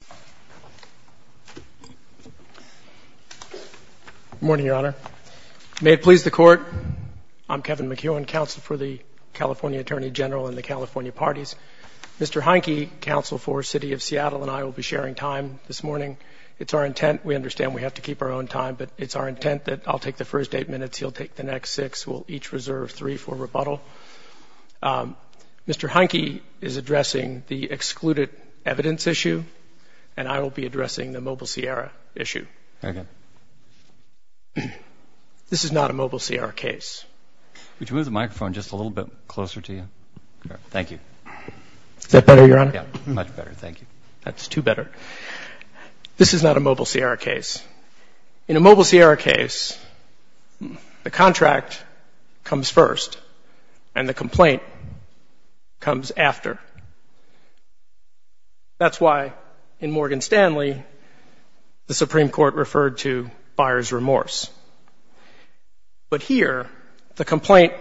Good morning, Your Honor. May it please the Court, I'm Kevin McEwen, Counsel for the California Attorney General and the California Parties. Mr. Heineke, Counsel for the City of Seattle, and I will be sharing time this morning. It's our intent, we understand we have to keep our own time, but it's our intent that I'll take the first eight minutes, he'll take the next six, we'll each reserve three for rebuttal. Mr. Heineke is addressing the excluded evidence issue, and I will be addressing the Mobile Sierra issue. This is not a Mobile Sierra case. Could you move the microphone just a little bit closer to you? Thank you. Is that better, Your Honor? Much better, thank you. That's too better. This is not a Mobile Sierra case. In a Mobile Sierra case, the contract comes first, and the complaint comes after. That's why in Morgan Stanley, the Supreme Court referred to buyer's remorse. But here, the complaint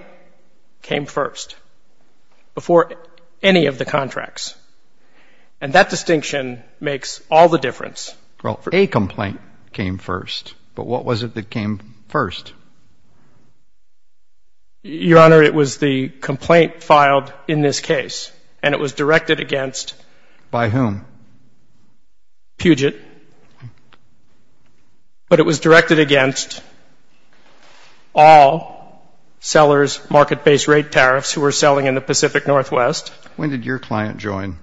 came first, before any of the contracts. And that distinction makes all the difference. Well, a complaint came first, but what was it that came first? Your Honor, it was the complaint filed in this case, and it was directed against... By whom? Puget. But it was directed against all sellers, market-based rate tariffs who were selling in the Pacific Northwest. When did your client join?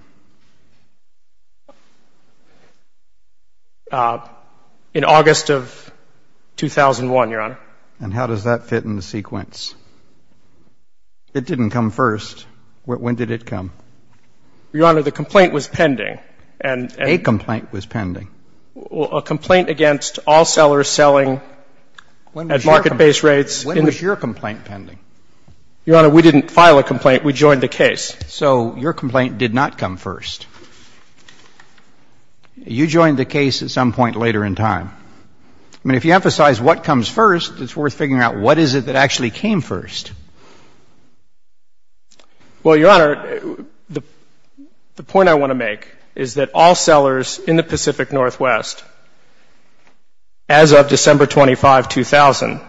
In August of 2001, Your Honor. And how does that fit in the sequence? It didn't come first. When did it come? Your Honor, the complaint was pending. A complaint was pending. A complaint against all sellers selling at market-based rates. When was your complaint pending? Your Honor, we didn't file a complaint. We joined the case. So your complaint did not come first. You joined the case at some point later in time. I mean, if you emphasize what comes first, it's worth figuring out what is it that actually came first. Well, Your Honor, the point I want to make is that all sellers in the Pacific Northwest, as of December 25, 2000...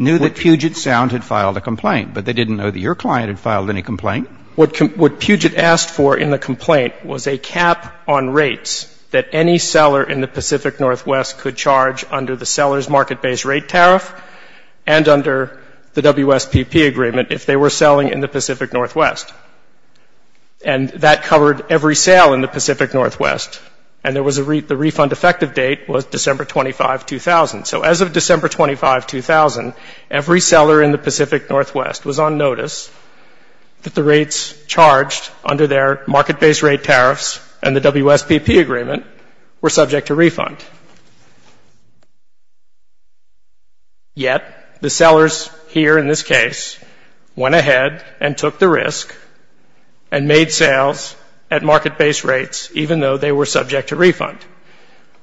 But they didn't know that your client had filed any complaint. What Puget asked for in the complaint was a cap on rates that any seller in the Pacific Northwest could charge under the seller's market-based rate tariff and under the WSPP agreement if they were selling in the Pacific Northwest. And that covered every sale in the Pacific Northwest. And the refund effective date was December 25, 2000. So as of December 25, 2000, every seller in the Pacific Northwest was on notice that the rates charged under their market-based rate tariffs and the WSPP agreement were subject to refund. Yet the sellers here in this case went ahead and took the risk and made sales at market-based rates,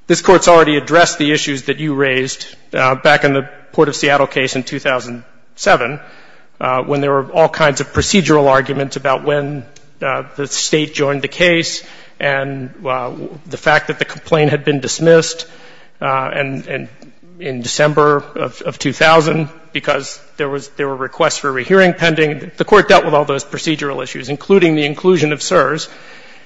This court's already addressed the issues that you raised back in the Port of Seattle case in 2007 when there were all kinds of procedural arguments about when the state joined the case and the fact that the complaint had been dismissed in December of 2000 because there were requests for a rehearing pending. The court dealt with all those procedural issues, including the inclusion of CSRS,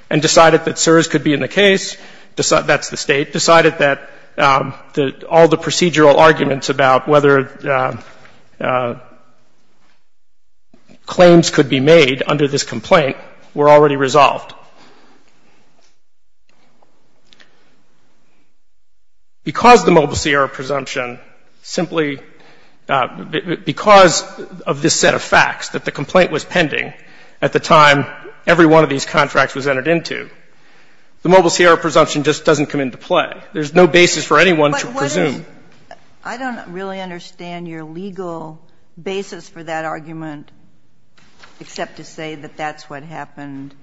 and decided that CSRS could be in the case. That's the state. Decided that all the procedural arguments about whether claims could be made under this complaint were already resolved. Because of the Mobile Sierra presumption, simply because of this set of facts that the complaint was pending at the time every one of these contracts was entered into, the Mobile Sierra presumption just doesn't come into play. There's no basis for anyone to presume. I don't really understand your legal basis for that argument except to say that that's what happened.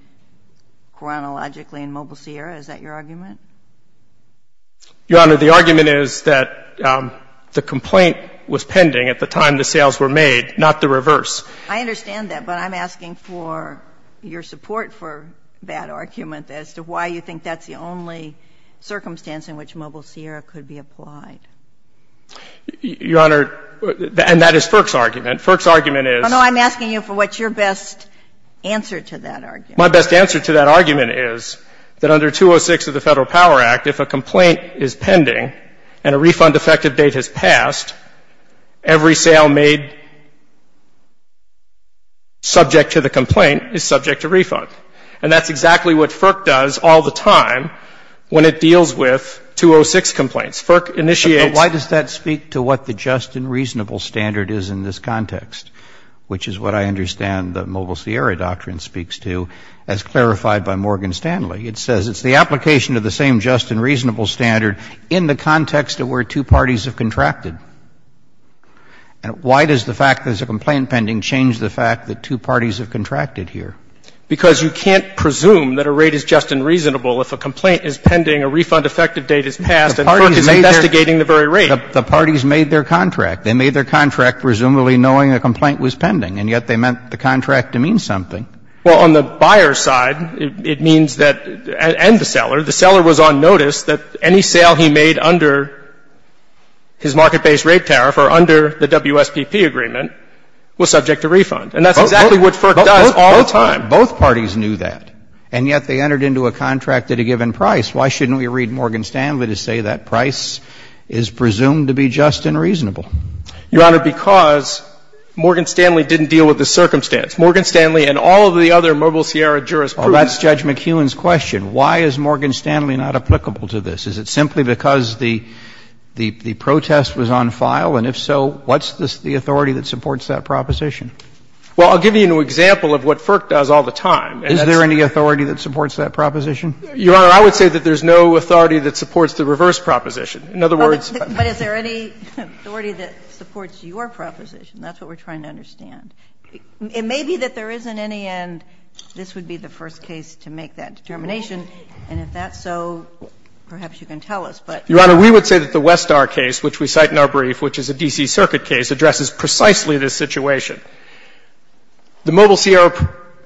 Chronologically in Mobile Sierra, is that your argument? Your Honor, the argument is that the complaint was pending at the time the sales were made, not the reverse. I understand that, but I'm asking for your support for that argument as to why you think that's the only circumstance in which Mobile Sierra could be applied. Your Honor, and that is Firk's argument. Firk's argument is I don't know, I'm asking you for what's your best answer to that argument. My best answer to that argument is that under 206 of the Federal Power Act, if a complaint is pending and a refund effective date has passed, every sale made subject to the complaint is subject to refund. And that's exactly what Firk does all the time when it deals with 206 complaints. And why does that speak to what the just and reasonable standard is in this context, which is what I understand the Mobile Sierra doctrine speaks to as clarified by Morgan Stanley. It says it's the application of the same just and reasonable standard in the context of where two parties have contracted. And why does the fact that there's a complaint pending change the fact that two parties have contracted here? Because you can't presume that a rate is just and reasonable if a complaint is pending, a refund effective date has passed. The parties made their contract. They made their contract presumably knowing the complaint was pending, and yet they meant the contract to mean something. Well, on the buyer's side, it means that, and the seller, the seller was on notice that any sale he made under his market-based rate tariff or under the WSPP agreement was subject to refund. And that's exactly what Firk does all the time. Both parties knew that, and yet they entered into a contract at a given price. Why shouldn't we read Morgan Stanley to say that price is presumed to be just and reasonable? Your Honor, because Morgan Stanley didn't deal with the circumstance. Morgan Stanley and all of the other Mobile Sierra jurisprudence Well, that's Judge McEwen's question. Why is Morgan Stanley not applicable to this? Is it simply because the protest was on file? And if so, what's the authority that supports that proposition? Well, I'll give you an example of what Firk does all the time. Is there any authority that supports that proposition? Your Honor, I would say that there's no authority that supports the reverse proposition. In other words But is there any authority that supports your proposition? That's what we're trying to understand. It may be that there is, in any end, this would be the first case to make that determination, and if that's so, perhaps you can tell us, but Your Honor, we would say that the Westar case, which we cite in our brief, which is a D.C. Circuit case, addresses precisely this situation. The Mobile Sierra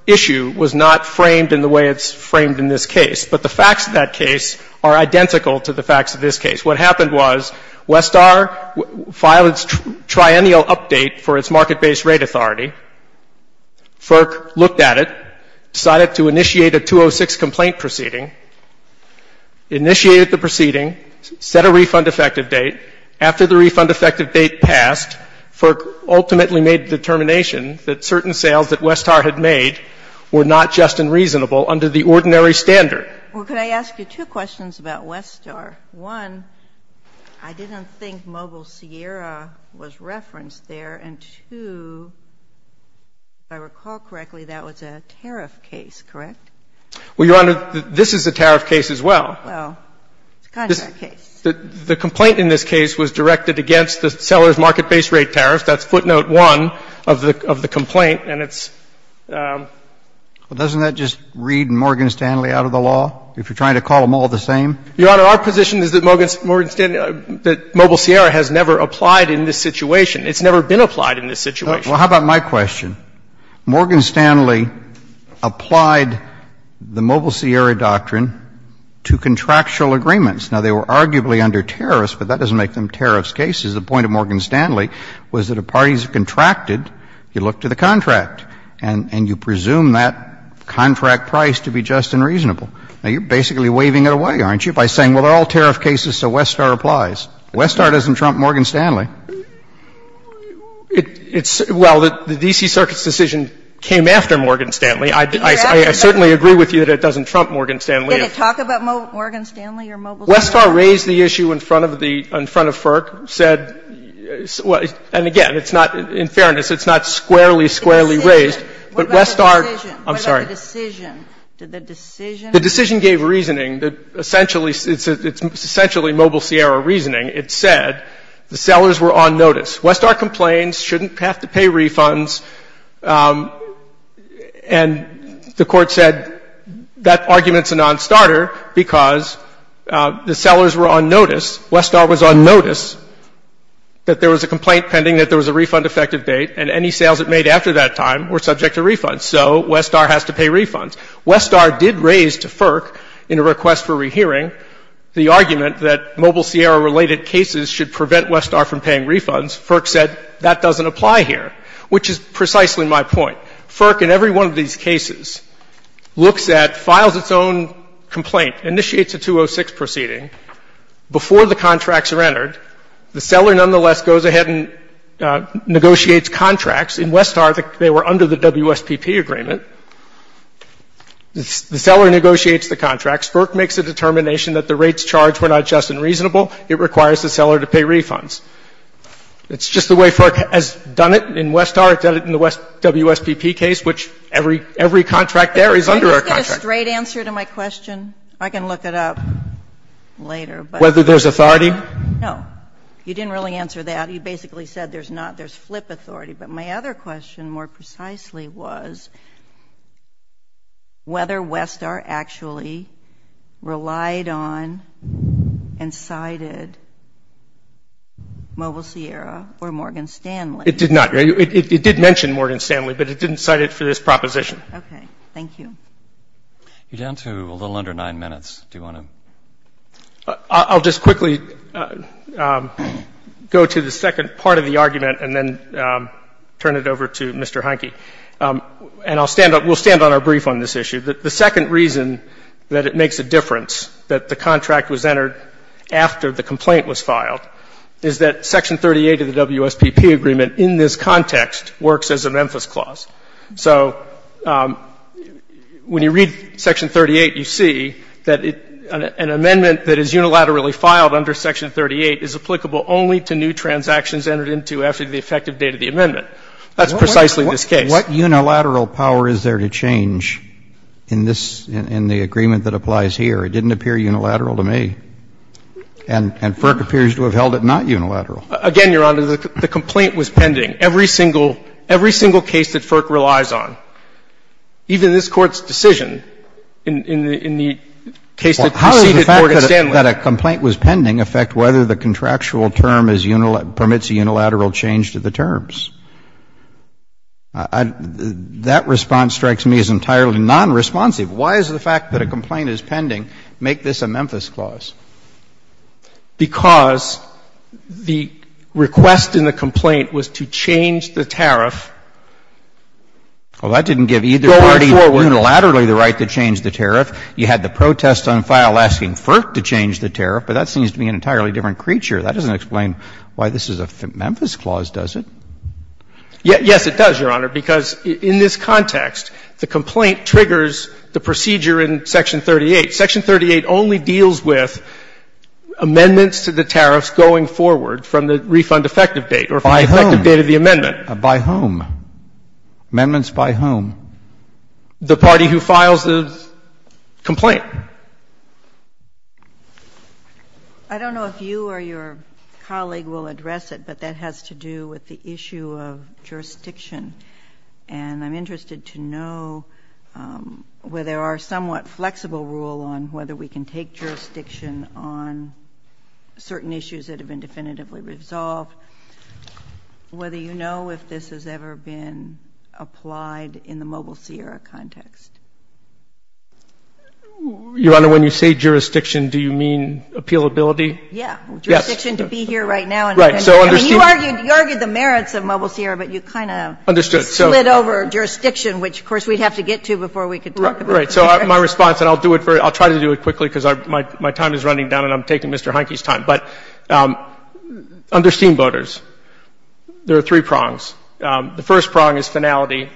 issue was not framed in the way it's framed in this case, but the facts of that case are identical to the facts of this case. What happened was Westar filed its triennial update for its market-based rate authority. Firk looked at it, decided to initiate a 206 complaint proceeding, initiated the proceeding, set a refund effective date. After the refund effective date passed, Firk ultimately made the determination that certain sales that Westar had made were not just and reasonable under the ordinary standard. Well, can I ask you two questions about Westar? One, I didn't think Mobile Sierra was referenced there, and two, if I recall correctly, that was a tariff case, correct? Well, Your Honor, this is a tariff case as well. Oh, it's a contract case. The complaint in this case was directed against the sellers' market-based rate tariffs. That's footnote one of the complaint, and it's... Well, doesn't that just read Morgan Stanley out of the law, if you're trying to call them all the same? Your Honor, our position is that Mobile Sierra has never applied in this situation. It's never been applied in this situation. Well, how about my question? Morgan Stanley applied the Mobile Sierra doctrine to contractual agreements. Now, they were arguably under tariffs, but that doesn't make them tariff cases. The point of Morgan Stanley was that if parties have contracted, you look to the contract, and you presume that contract price to be just and reasonable. Now, you're basically waving it away, aren't you, by saying, well, they're all tariff cases, so Westar applies. Westar doesn't trump Morgan Stanley. Well, the D.C. Circuit's decision came after Morgan Stanley. I certainly agree with you that it doesn't trump Morgan Stanley. Can you talk about Morgan Stanley or Mobile Sierra? Westar raised the issue in front of FERC, said... And again, in fairness, it's not squarely, squarely raised, but Westar... What about the decision? I'm sorry. Did the decision... The decision gave reasoning. It's essentially Mobile Sierra reasoning. It said the sellers were on notice. Westar complains, shouldn't have to pay refunds. And the court said that argument's a nonstarter because the sellers were on notice. Westar was on notice that there was a complaint pending that there was a refund effective date, and any sales it made after that time were subject to refunds. So Westar has to pay refunds. Westar did raise to FERC, in a request for rehearing, the argument that Mobile Sierra-related cases should prevent Westar from paying refunds. FERC said that doesn't apply here, which is precisely my point. FERC, in every one of these cases, looks at, files its own complaint, initiates a 206 proceeding. Before the contracts are entered, the seller nonetheless goes ahead and negotiates contracts. In Westar, they were under the WSPP agreement. The seller negotiates the contracts. FERC makes a determination that the rates charged were not just and reasonable. It requires the seller to pay refunds. It's just the way FERC has done it. In Westar, it does it in the WSPP case, which every contract there is under our contract. Can you give a straight answer to my question? I can look it up later. Whether there's authority? No. You didn't really answer that. You basically said there's not. There's flip authority. My other question, more precisely, was whether Westar actually relied on and cited Mobile Sierra or Morgan Stanley. It did not. It did mention Morgan Stanley, but it didn't cite it for this proposition. Okay. Thank you. You're down to a little under nine minutes. Do you want to? I'll just quickly go to the second part of the argument and then turn it over to Mr. Heinke. And we'll stand on our brief on this issue. The second reason that it makes a difference that the contract was entered after the complaint was filed is that Section 38 of the WSPP agreement in this context works as a Memphis clause. So when you read Section 38, you see that an amendment that is unilaterally filed under Section 38 is applicable only to new transactions entered into after the effective date of the amendment. That's precisely this case. What unilateral power is there to change in the agreement that applies here? It didn't appear unilateral to me. And FERC appears to have held it not unilateral. Again, Your Honor, the complaint was pending. Again, every single case that FERC relies on, even this Court's decision in the case that this Court extended. Well, how does the fact that a complaint was pending affect whether the contractual term permits a unilateral change to the terms? That response strikes me as entirely nonresponsive. Why does the fact that a complaint is pending make this a Memphis clause? Because the request in the complaint was to change the tariff. Well, that didn't give either party unilaterally the right to change the tariff. You had the protest on file asking FERC to change the tariff, but that seems to be an entirely different creature. That doesn't explain why this is a Memphis clause, does it? Yes, it does, Your Honor, because in this context, the complaint triggers the procedure in Section 38. Section 38 only deals with amendments to the tariffs going forward from the refund effective date or from the effective date of the amendment. By whom? Amendments by whom? The party who files the complaint. I don't know if you or your colleague will address it, but that has to do with the issue of jurisdiction. And I'm interested to know whether our somewhat flexible rule on whether we can take jurisdiction on certain issues that have been definitively resolved, whether you know if this has ever been applied in the Mobile Sierra context. Your Honor, when you say jurisdiction, do you mean appealability? Yes, jurisdiction to be here right now. You argued the merits of Mobile Sierra, but you kind of slid over jurisdiction, which, of course, we'd have to get to before we could talk about it. Right, so my response, and I'll try to do it quickly because my time is running down and I'm taking Mr. Heineke's time. But under steamboaters, there are three prongs. The first prong is finality.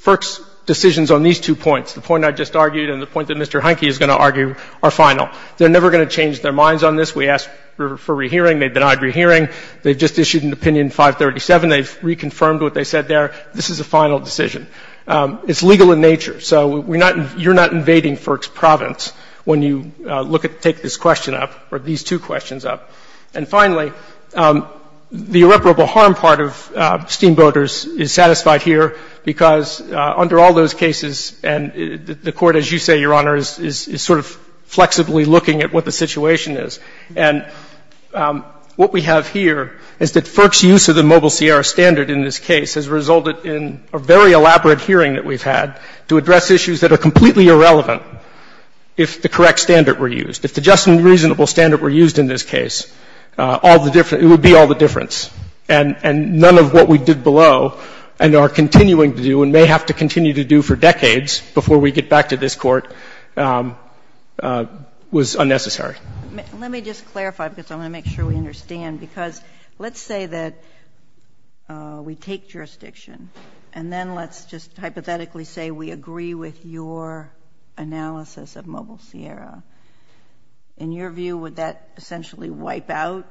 FERC's decisions on these two points, the point I just argued and the point that Mr. Heineke is going to argue, are final. They're never going to change their minds on this. We asked for rehearing. They denied rehearing. They just issued an opinion 537. They've reconfirmed what they said there. This is a final decision. It's legal in nature, so you're not invading FERC's province when you take this question up or these two questions up. And finally, the irreparable harm part of steamboaters is satisfied here because under all those cases, the Court, as you say, Your Honor, is sort of flexibly looking at what the situation is. And what we have here is that FERC's use of the mobile CR standard in this case has resulted in a very elaborate hearing that we've had to address issues that are completely irrelevant if the correct standard were used. If the just and reasonable standard were used in this case, it would be all the difference. And none of what we did below and are continuing to do and may have to continue to do for decades before we get back to this Court was unnecessary. Let me just clarify because I want to make sure we understand because let's say that we take jurisdiction and then let's just hypothetically say we agree with your analysis of mobile Sierra. In your view, would that essentially wipe out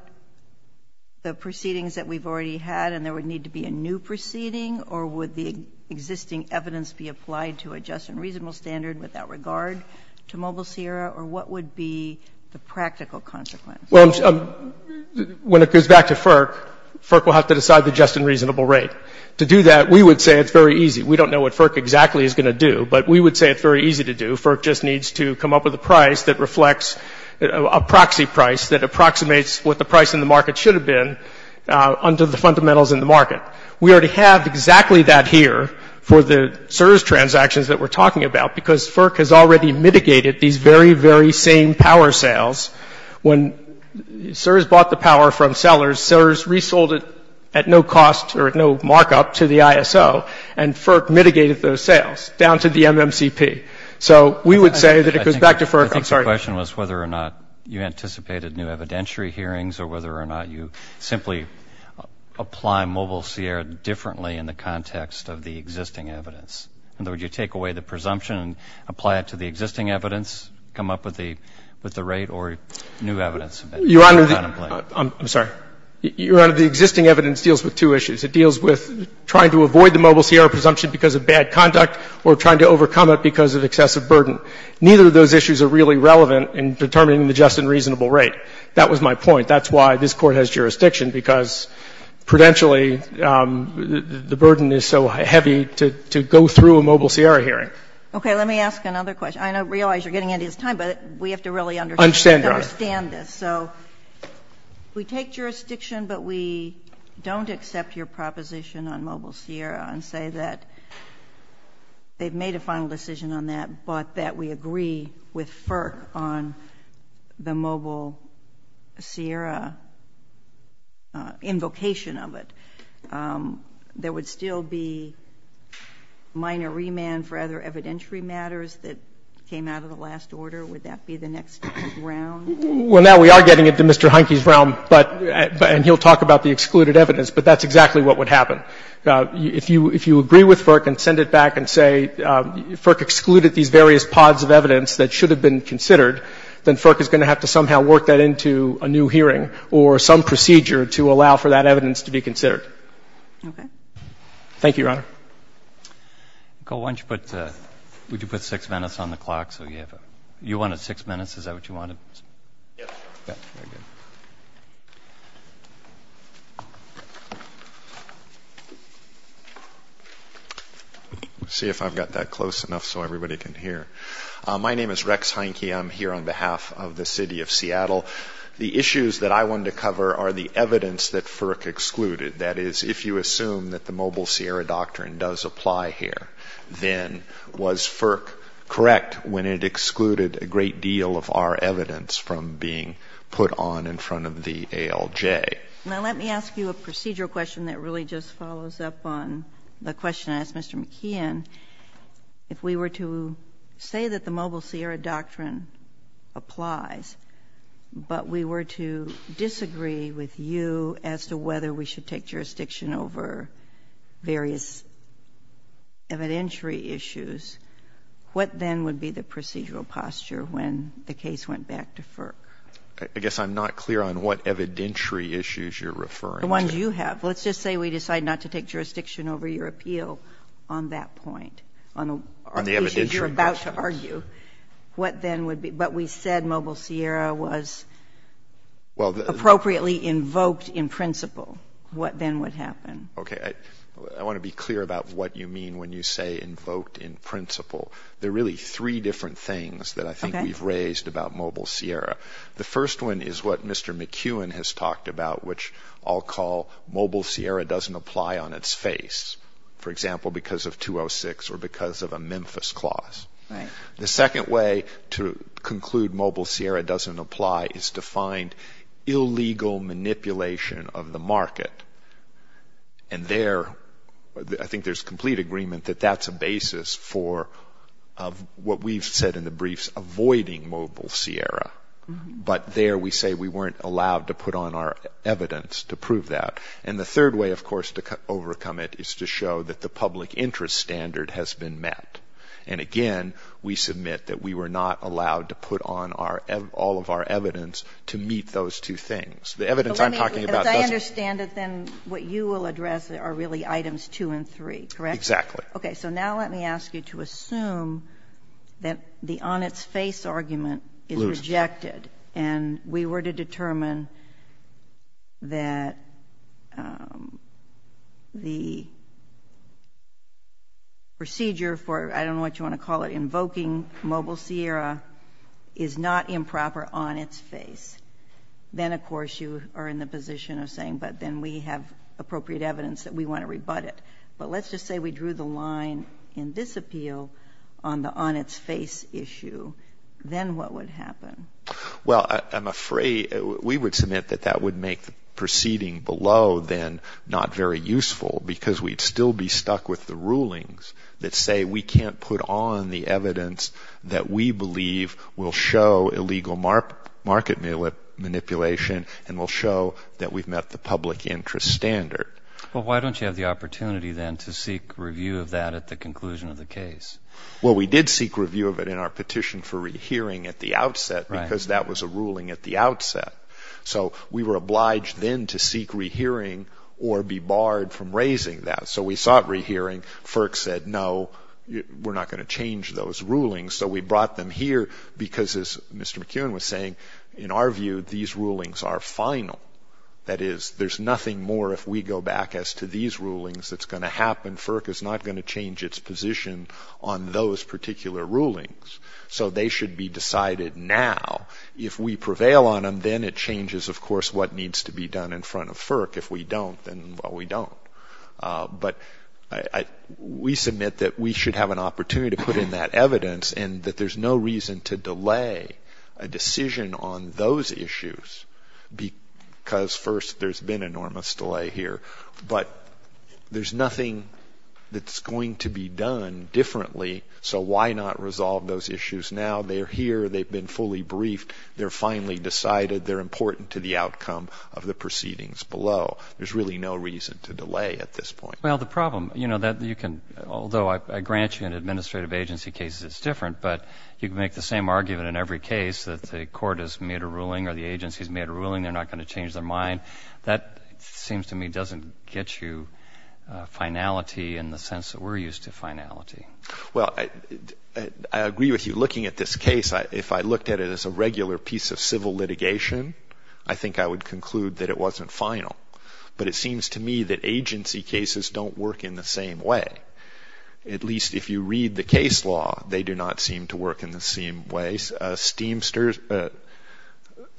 the proceedings that we've already had and there would need to be a new proceeding or would the existing evidence be applied to a just and reasonable standard without regard to mobile Sierra or what would be the practical consequence? Well, when it goes back to FERC, FERC will have to decide the just and reasonable rate. To do that, we would say it's very easy. We don't know what FERC exactly is going to do, but we would say it's very easy to do. FERC just needs to come up with a price that reflects a proxy price that approximates what the price in the market should have been under the fundamentals in the market. We already have exactly that here for the CERS transactions that we're talking about because FERC has already mitigated these very, very same power sales. When CERS bought the power from sellers, CERS resold it at no cost or at no markup to the ISO and FERC mitigated those sales down to the MMCP. So we would say that it goes back to FERC. I'm sorry. The question was whether or not you anticipated new evidentiary hearings or whether or not you simply apply mobile Sierra differently in the context of the existing evidence. Would you take away the presumption and apply it to the existing evidence, come up with the rate or new evidence? Your Honor, I'm sorry. Your Honor, the existing evidence deals with two issues. It deals with trying to avoid the mobile Sierra presumption because of bad conduct or trying to overcome it because of excessive burden. Neither of those issues are really relevant in determining the just and reasonable rate. That was my point. That's why this Court has jurisdiction because prudentially the burden is so heavy to go through a mobile Sierra hearing. Okay. Let me ask another question. I realize you're getting out of time, but we have to really understand this. I understand, Your Honor. We take jurisdiction, but we don't accept your proposition on mobile Sierra and say that they've made a final decision on that, but that we agree with FERC on the mobile Sierra invocation of it. There would still be minor remand for other evidentiary matters that came out of the last order. Would that be the next round? Well, now we are getting into Mr. Heinke's realm, and he'll talk about the excluded evidence, but that's exactly what would happen. If you agree with FERC and send it back and say, FERC excluded these various pods of evidence that should have been considered, then FERC is going to have to somehow work that into a new hearing or some procedure to allow for that evidence to be considered. Okay. Thank you, Your Honor. Would you put six minutes on the clock? You wanted six minutes? Is that what you wanted? Yes. Let's see if I've got that close enough so everybody can hear. My name is Rex Heinke. I'm here on behalf of the City of Seattle. The issues that I wanted to cover are the evidence that FERC excluded, that is, if you assume that the Mobile Sierra Doctrine does apply here, then was FERC correct when it excluded a great deal of our evidence from being put on in front of the ALJ? Now let me ask you a procedural question that really just follows up on the question I asked Mr. McKeon. If we were to say that the Mobile Sierra Doctrine applies, but we were to disagree with you as to whether we should take jurisdiction over various evidentiary issues, what then would be the procedural posture when the case went back to FERC? I guess I'm not clear on what evidentiary issues you're referring to. The ones you have. Let's just say we decide not to take jurisdiction over your appeal on that point, on the issues you're about to argue. But we said Mobile Sierra was appropriately invoked in principle. What then would happen? I want to be clear about what you mean when you say invoked in principle. There are really three different things that I think we've raised about Mobile Sierra. The first one is what Mr. McKeon has talked about, which I'll call Mobile Sierra doesn't apply on its face, for example, because of 206 or because of a Memphis clause. The second way to conclude Mobile Sierra doesn't apply is to find illegal manipulation of the market. And there, I think there's complete agreement that that's a basis for what we've said in the briefs, avoiding Mobile Sierra. But there we say we weren't allowed to put on our evidence to prove that. And the third way, of course, to overcome it is to show that the public interest standard has been met. And again, we submit that we were not allowed to put on all of our evidence to meet those two things. The evidence I'm talking about doesn't. Because I understand that then what you will address are really items two and three, correct? Exactly. Okay, so now let me ask you to assume that the on its face argument is rejected and we were to determine that the procedure for, I don't know what you want to call it, invoking Mobile Sierra is not improper on its face. Then, of course, you are in the position of saying, but then we have appropriate evidence that we want to rebut it. But let's just say we drew the line in this appeal on the on its face issue. Then what would happen? Well, I'm afraid we would submit that that would make proceeding below then not very useful because we'd still be stuck with the rulings that say we can't put on the evidence that we believe will show illegal market manipulation and will show that we've met the public interest standard. But why don't you have the opportunity then to seek review of that at the conclusion of the case? Well, we did seek review of it in our petition for rehearing at the outset because that was a ruling at the outset. So we were obliged then to seek rehearing or be barred from raising that. So we sought rehearing. FERC said, no, we're not going to change those rulings. So we brought them here because, as Mr. McKeown was saying, in our view these rulings are final. That is, there's nothing more if we go back as to these rulings that's going to happen. FERC is not going to change its position on those particular rulings. So they should be decided now. If we prevail on them, then it changes, of course, what needs to be done in front of FERC. If we don't, then, well, we don't. But we submit that we should have an opportunity to put in that evidence and that there's no reason to delay a decision on those issues because, first, there's been enormous delay here, but there's nothing that's going to be done differently, so why not resolve those issues now? They're here. They've been fully briefed. They're finally decided. They're important to the outcome of the proceedings below. There's really no reason to delay at this point. Well, the problem, you know, that you can, although I grant you in administrative agency cases it's different, but you can make the same argument in every case that the court has made a ruling or the agency has made a ruling, they're not going to change their mind. That seems to me doesn't get you finality in the sense that we're used to finality. Well, I agree with you. Looking at this case, if I looked at it as a regular piece of civil litigation, I think I would conclude that it wasn't final. But it seems to me that agency cases don't work in the same way. At least if you read the case law, they do not seem to work in the same way. This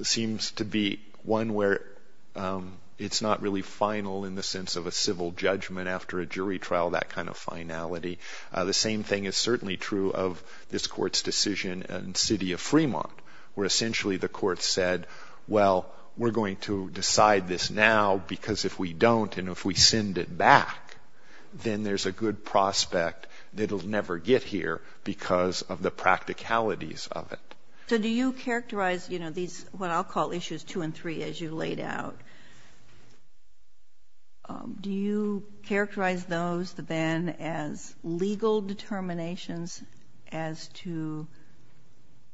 seems to be one where it's not really final in the sense of a civil judgment after a jury trial, that kind of finality. The same thing is certainly true of this court's decision in the city of Fremont, where essentially the court said, well, we're going to decide this now, because if we don't and if we send it back, then there's a good prospect that it will never get here because of the practicalities of it. So do you characterize what I'll call issues two and three as you laid out, do you characterize those then as legal determinations as to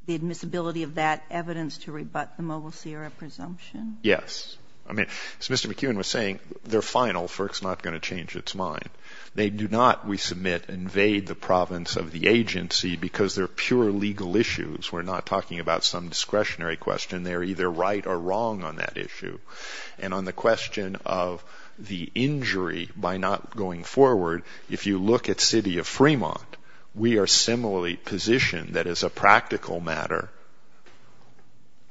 the admissibility of that evidence to rebut the Mobile Sierra presumption? Yes. As Mr. McEwen was saying, they're final for it's not going to change its mind. They do not, we submit, invade the province of the agency because they're pure legal issues. We're not talking about some discretionary question. They're either right or wrong on that issue. And on the question of the injury by not going forward, if you look at the city of Fremont, we are similarly positioned that as a practical matter,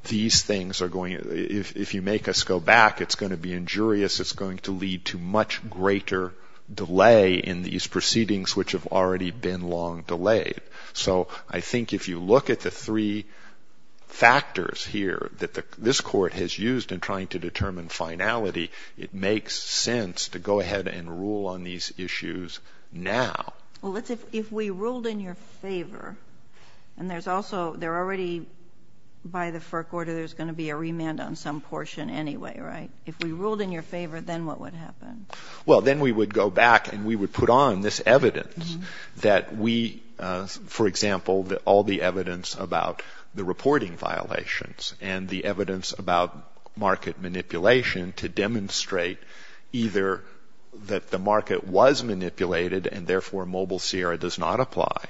these things are going, if you make us go back, it's going to be injurious. It's going to lead to much greater delay in these proceedings, which have already been long delayed. So I think if you look at the three factors here that this court has used in trying to determine finality, it makes sense to go ahead and rule on these issues now. Well, if we ruled in your favor, and there's also, they're already, by the FERC order, there's going to be a remand on some portion anyway, right? If we ruled in your favor, then what would happen? Well, then we would go back and we would put on this evidence that we, for example, all the evidence about the reporting violations and the evidence about market manipulation to demonstrate either that the market was manipulated and therefore mobile CR does not apply,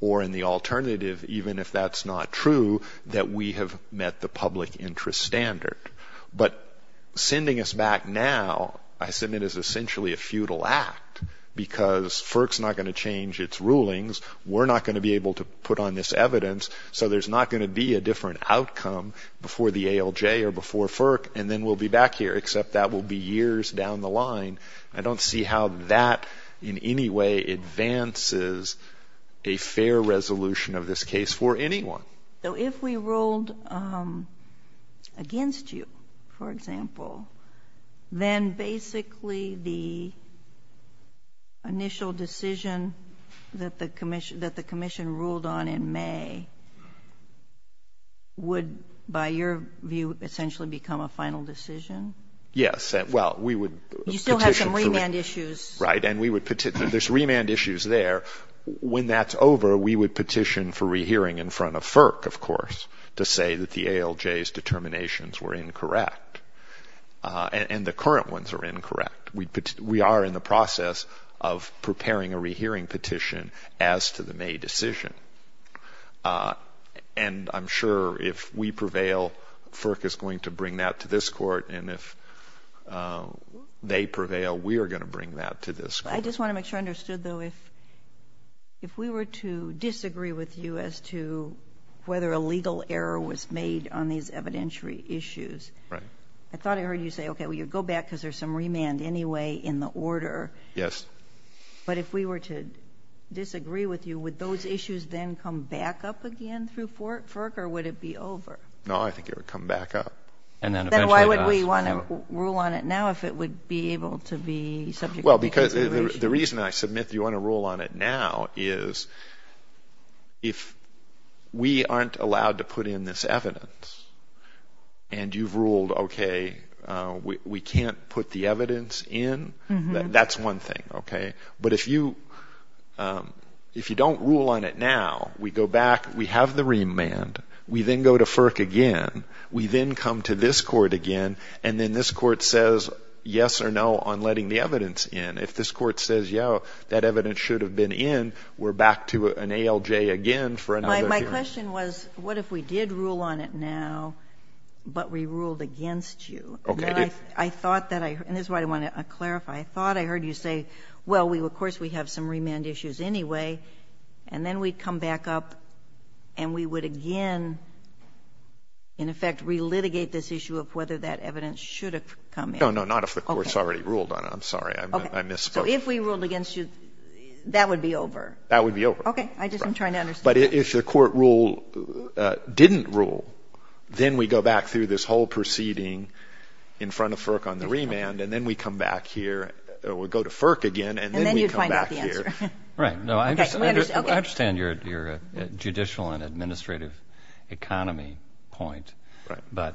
or in the alternative, even if that's not true, that we have met the public interest standard. But sending us back now, I submit, is essentially a futile act, because FERC's not going to change its rulings. We're not going to be able to put on this evidence, so there's not going to be a different outcome before the ALJ or before FERC, and then we'll be back here, except that will be years down the line. I don't see how that in any way advances a fair resolution of this case for anyone. So if we ruled against you, for example, then basically the initial decision that the commission ruled on in May would, by your view, essentially become a final decision? Yes. You still have some remand issues. Right, and there's remand issues there. When that's over, we would petition for rehearing in front of FERC, of course, to say that the ALJ's determinations were incorrect, and the current ones are incorrect. We are in the process of preparing a rehearing petition as to the May decision, and I'm sure if we prevail, FERC is going to bring that to this court, and if they prevail, we are going to bring that to this court. I just want to make sure I understood, though. If we were to disagree with you as to whether a legal error was made on these evidentiary issues, I thought I heard you say, okay, well, you go back because there's some remand anyway in the order. Yes. But if we were to disagree with you, would those issues then come back up again through FERC, or would it be over? No, I think it would come back up. Then why would we want to rule on it now if it would be able to be subject to review? Well, because the reason I said you want to rule on it now is if we aren't allowed to put in this evidence and you've ruled, okay, we can't put the evidence in, that's one thing, okay? But if you don't rule on it now, we go back, we have the remand, we then go to FERC again, we then come to this court again, and then this court says yes or no on letting the evidence in. If this court says, yo, that evidence should have been in, we're back to an ALJ again for another hearing. My question was, what if we did rule on it now, but we ruled against you? I thought that I, and this is why I want to clarify, I thought I heard you say, well, of course we have some remand issues anyway, and then we'd come back up and we would again, in effect, relitigate this issue of whether that evidence should have come in. No, no, not if the court's already ruled on it. I'm sorry, I misspoke. So if we ruled against you, that would be over? That would be over. Okay, I'm just trying to understand. But if the court ruled, didn't rule, then we go back through this whole proceeding in front of FERC on the remand, and then we come back here, we go to FERC again, and then we come back here. And then you find out the answer. Right, no, I understand your judicial and administrative economy point, but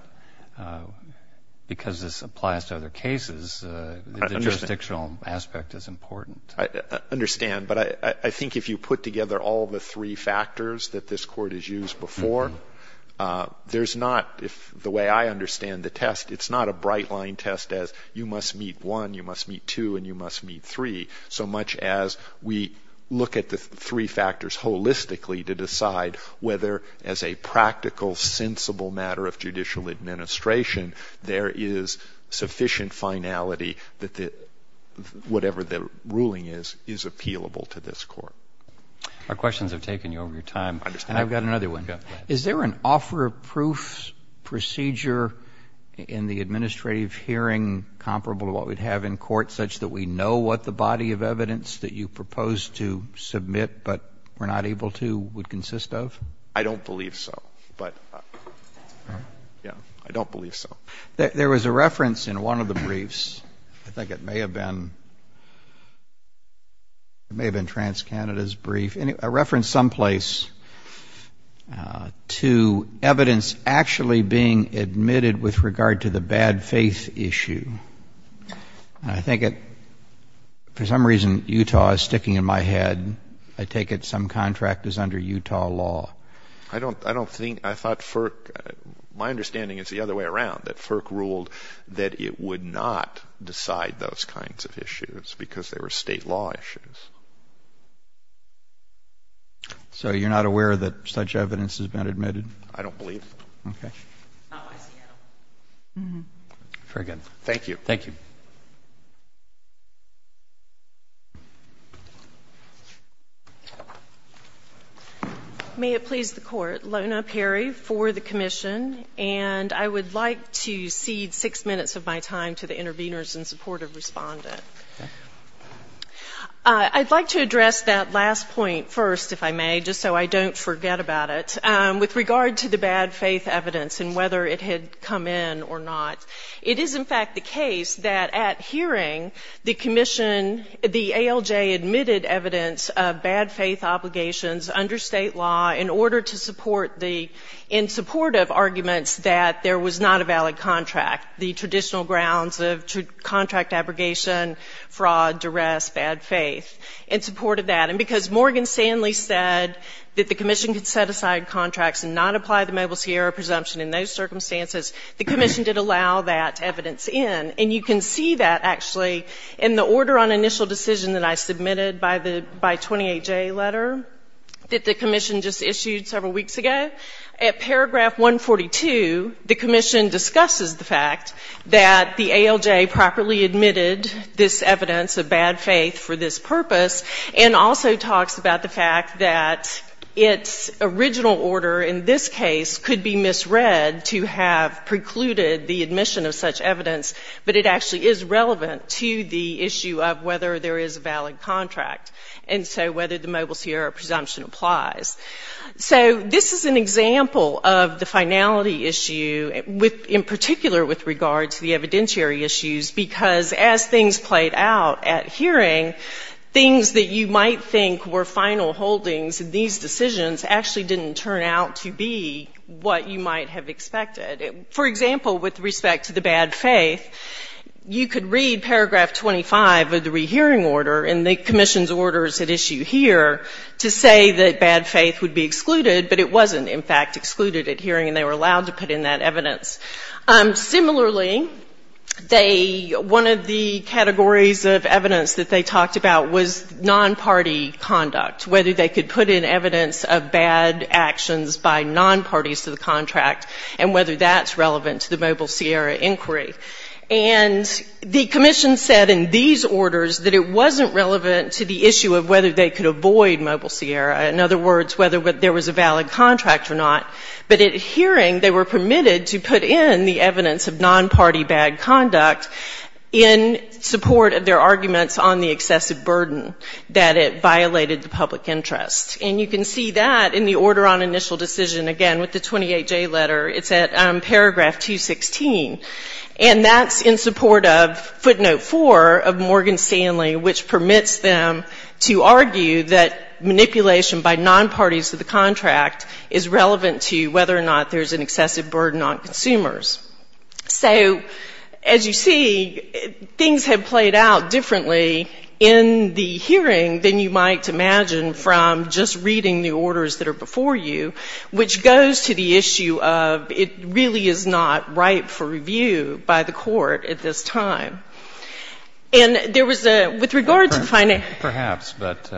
because this applies to other cases, the jurisdictional aspect is important. I understand, but I think if you put together all the three factors that this court has used before, there's not, the way I understand the test, it's not a bright-line test as you must meet one, you must meet two, and you must meet three, so much as we look at the three factors holistically to decide whether, as a practical, sensible matter of judicial administration, there is sufficient finality that whatever the ruling is, is appealable to this court. Our questions have taken you over your time, and I've got another one. Is there an offer of proof procedure in the administrative hearing comparable to what we'd have in court, such that we know what the body of evidence that you proposed to submit but were not able to would consist of? I don't believe so, but, yeah, I don't believe so. There was a reference in one of the briefs, I think it may have been TransCanada's brief, a reference someplace to evidence actually being admitted with regard to the bad faith issue. I think it, for some reason Utah is sticking in my head, I take it some contract is under Utah law. I don't think, I thought FERC, my understanding is the other way around, that FERC ruled that it would not decide those kinds of issues because they were state law issues. So you're not aware that such evidence has been admitted? I don't believe. Okay. Very good. Thank you. Thank you. May it please the court, Lona Perry for the commission, and I would like to cede six minutes of my time to the interveners in support of respondents. I'd like to address that last point first, if I may, just so I don't forget about it. With regard to the bad faith evidence and whether it had come in or not, it is in fact the case that at hearing the commission, the ALJ admitted evidence of bad faith obligations under state law in order to support the, in support of arguments that there was not a valid contract, the traditional grounds of contract abrogation, fraud, duress, bad faith, in support of that. And because Morgan Stanley said that the commission could set aside contracts and not apply the Mobile Sierra presumption in those circumstances, the commission did allow that evidence in. And you can see that actually in the order on initial decision that I submitted by 28-J letter that the commission just issued several weeks ago. At paragraph 142, the commission discusses the fact that the ALJ properly admitted this evidence of bad faith for this purpose and also talks about the fact that its original order in this case could be misread to have precluded the admission of such evidence, but it actually is relevant to the issue of whether there is a valid contract and so whether the Mobile Sierra presumption applies. So this is an example of the finality issue, in particular with regard to the evidentiary issues, because as things played out at hearing, things that you might think were final holdings in these decisions actually didn't turn out to be what you might have expected. For example, with respect to the bad faith, you could read paragraph 25 of the rehearing order in the commission's orders at issue here to say that bad faith would be excluded, but it wasn't in fact excluded at hearing and they were allowed to put in that evidence. Similarly, one of the categories of evidence that they talked about was non-party conduct, whether they could put in evidence of bad actions by non-parties to the contract and whether that's relevant to the Mobile Sierra inquiry. And the commission said in these orders that it wasn't relevant to the issue of whether they could avoid Mobile Sierra, in other words, whether there was a valid contract or not, but at hearing they were permitted to put in the evidence of non-party bad conduct in support of their arguments on the excessive burden that it violated the public interest. And you can see that in the order on initial decision, again, with the 28-J letter. It's at paragraph 216, and that's in support of footnote 4 of Morgan Stanley, which permits them to argue that manipulation by non-parties to the contract is relevant to whether or not there's an excessive burden on consumers. So as you see, things have played out differently in the hearing than you might imagine from just reading the orders that are before you, which goes to the issue of it really is not ripe for review by the court at this time. Perhaps, but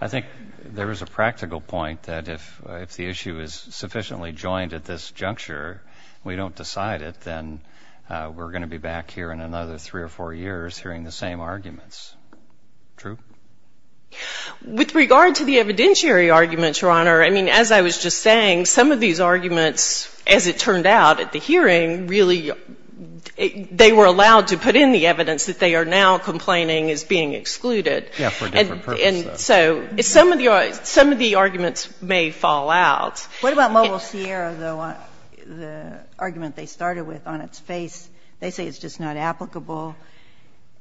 I think there is a practical point that if the issue is sufficiently joined at this juncture, we don't decide it, then we're going to be back here in another three or four years hearing the same arguments. True? With regard to the evidentiary arguments, Your Honor, I mean, as I was just saying, some of these arguments, as it turned out at the hearing, they were allowed to put in the evidence that they are now complaining is being excluded. Yes, for different purposes. And so some of the arguments may fall out. What about Mobile Sierra, though? The argument they started with on its face, they say it's just not applicable,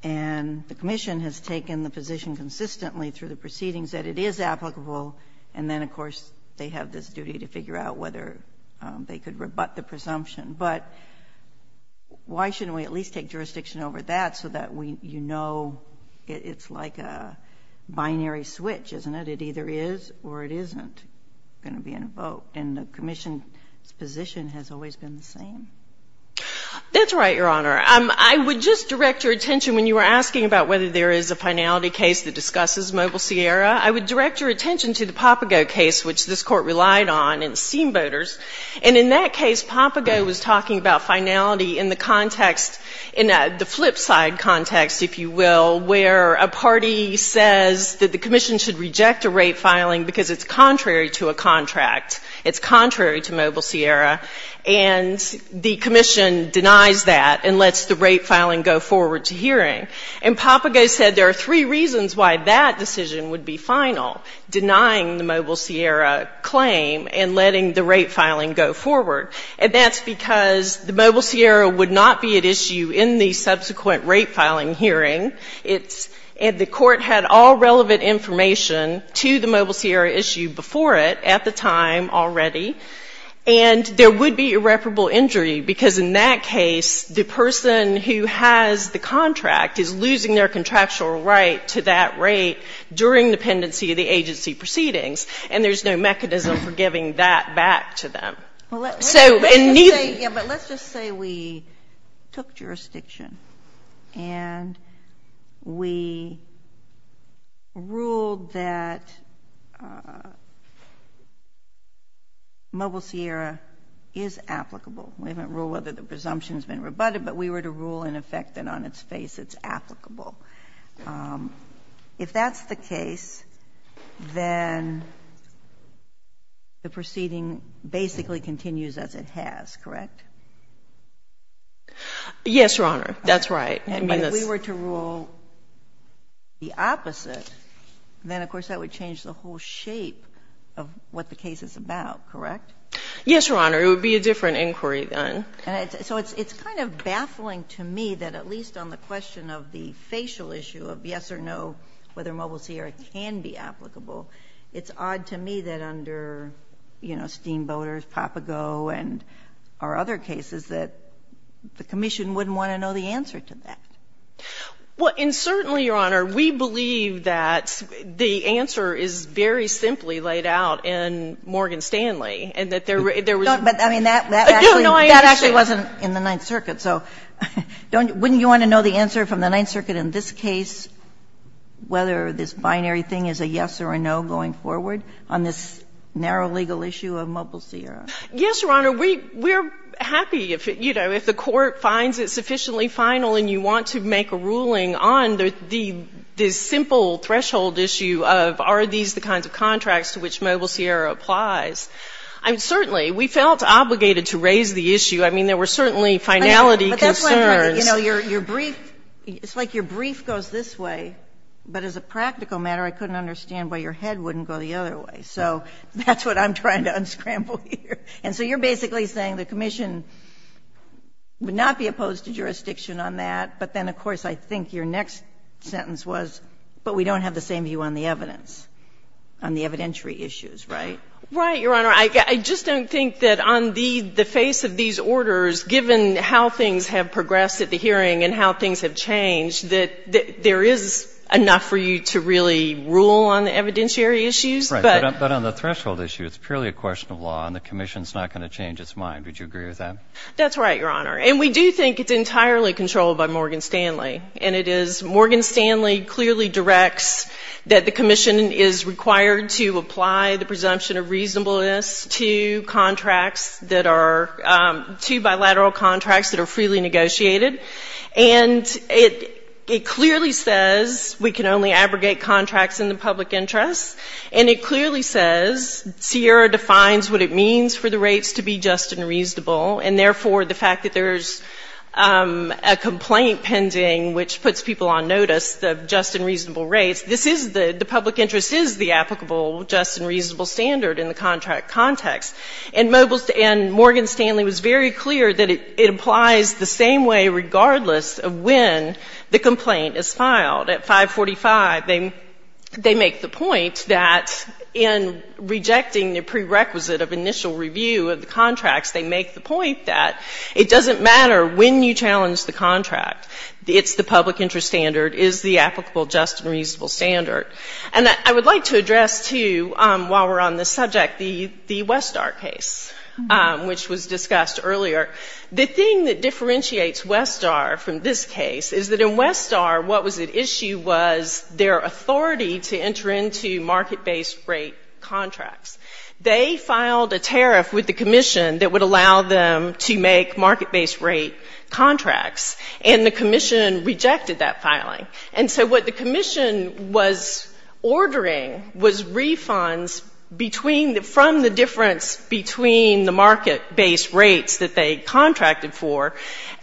and the Commission has taken the position consistently through the proceedings that it is applicable, and then, of course, they have this duty to figure out whether they could rebut the presumption. But why shouldn't we at least take jurisdiction over that so that you know it's like a binary switch, isn't it? It either is or it isn't going to be in a vote. And the Commission's position has always been the same. That's right, Your Honor. I would just direct your attention when you were asking about whether there is a finality case that discusses Mobile Sierra, I would direct your attention to the Papago case, which this Court relied on, and the scheme voters. And in that case, Papago was talking about finality in the context, in the flip side context, if you will, where a party says that the Commission should reject a rape filing because it's contrary to a contract. It's contrary to Mobile Sierra. And the Commission denies that and lets the rape filing go forward to hearing. And Papago said there are three reasons why that decision would be final, denying the Mobile Sierra claim and letting the rape filing go forward. And that's because the Mobile Sierra would not be at issue in the subsequent rape filing hearing. And the Court had all relevant information to the Mobile Sierra issue before it at the time already. And there would be irreparable injury because in that case, the person who has the contract is losing their contractual right to that rape during the pendency of the agency proceedings. And there's no mechanism for giving that back to them. Let's just say we took jurisdiction and we ruled that Mobile Sierra is applicable. We didn't rule whether the presumption has been rebutted, but we were to rule in effect that on its face it's applicable. If that's the case, then the proceeding basically continues as it has, correct? Yes, Your Honor, that's right. And if we were to rule the opposite, then of course that would change the whole shape of what the case is about, correct? Yes, Your Honor, it would be a different inquiry then. So it's kind of baffling to me that at least on the question of the facial issue of yes or no, whether Mobile Sierra can be applicable, it's odd to me that under Steamboaters, Propago, and our other cases that the Commission wouldn't want to know the answer to that. Well, and certainly, Your Honor, we believe that the answer is very simply laid out in Morgan Stanley. But that actually wasn't in the Ninth Circuit, so wouldn't you want to know the answer from the Ninth Circuit in this case, whether this binary thing is a yes or a no going forward on this narrow legal issue of Mobile Sierra? Yes, Your Honor, we're happy if the court finds it sufficiently final and you want to make a ruling on the simple threshold issue of are these the kinds of contracts to which Mobile Sierra applies. Certainly, we felt obligated to raise the issue. I mean, there were certainly finality concerns. It's like your brief goes this way, but as a practical matter, I couldn't understand why your head wouldn't go the other way. So that's what I'm trying to unscramble here. And so you're basically saying the Commission would not be opposed to jurisdiction on that, but then, of course, I think your next sentence was, but we don't have the same view on the evidence, on the evidentiary issues, right? Right, Your Honor. I just don't think that on the face of these orders, given how things have progressed at the hearing and how things have changed, that there is enough for you to really rule on the evidentiary issues. But on the threshold issue, it's purely a question of law, and the Commission's not going to change its mind. Would you agree with that? That's right, Your Honor. And we do think it's entirely controlled by Morgan Stanley. And it is. Morgan Stanley clearly directs that the Commission is required to apply the presumption of reasonableness to contracts that are, to bilateral contracts that are freely negotiated. And it clearly says we can only abrogate contracts in the public interest. And it clearly says CIERA defines what it means for the rates to be just and reasonable, and therefore the fact that there's a complaint pending which puts people on notice of just and reasonable rates, the public interest is the applicable just and reasonable standard in the contract context. And Morgan Stanley was very clear that it applies the same way regardless of when the complaint is filed. At 545, they make the point that in rejecting the prerequisite of initial review of the contract, they make the point that it doesn't matter when you challenge the contract. It's the public interest standard is the applicable just and reasonable standard. And I would like to address, too, while we're on this subject, the Westar case, which was discussed earlier. The thing that differentiates Westar from this case is that in Westar, what was at issue was their authority to enter into market-based rate contracts. They filed a tariff with the Commission that would allow them to make market-based rate contracts, and the Commission rejected that filing. And so what the Commission was ordering was refunds from the difference between the market-based rates that they contracted for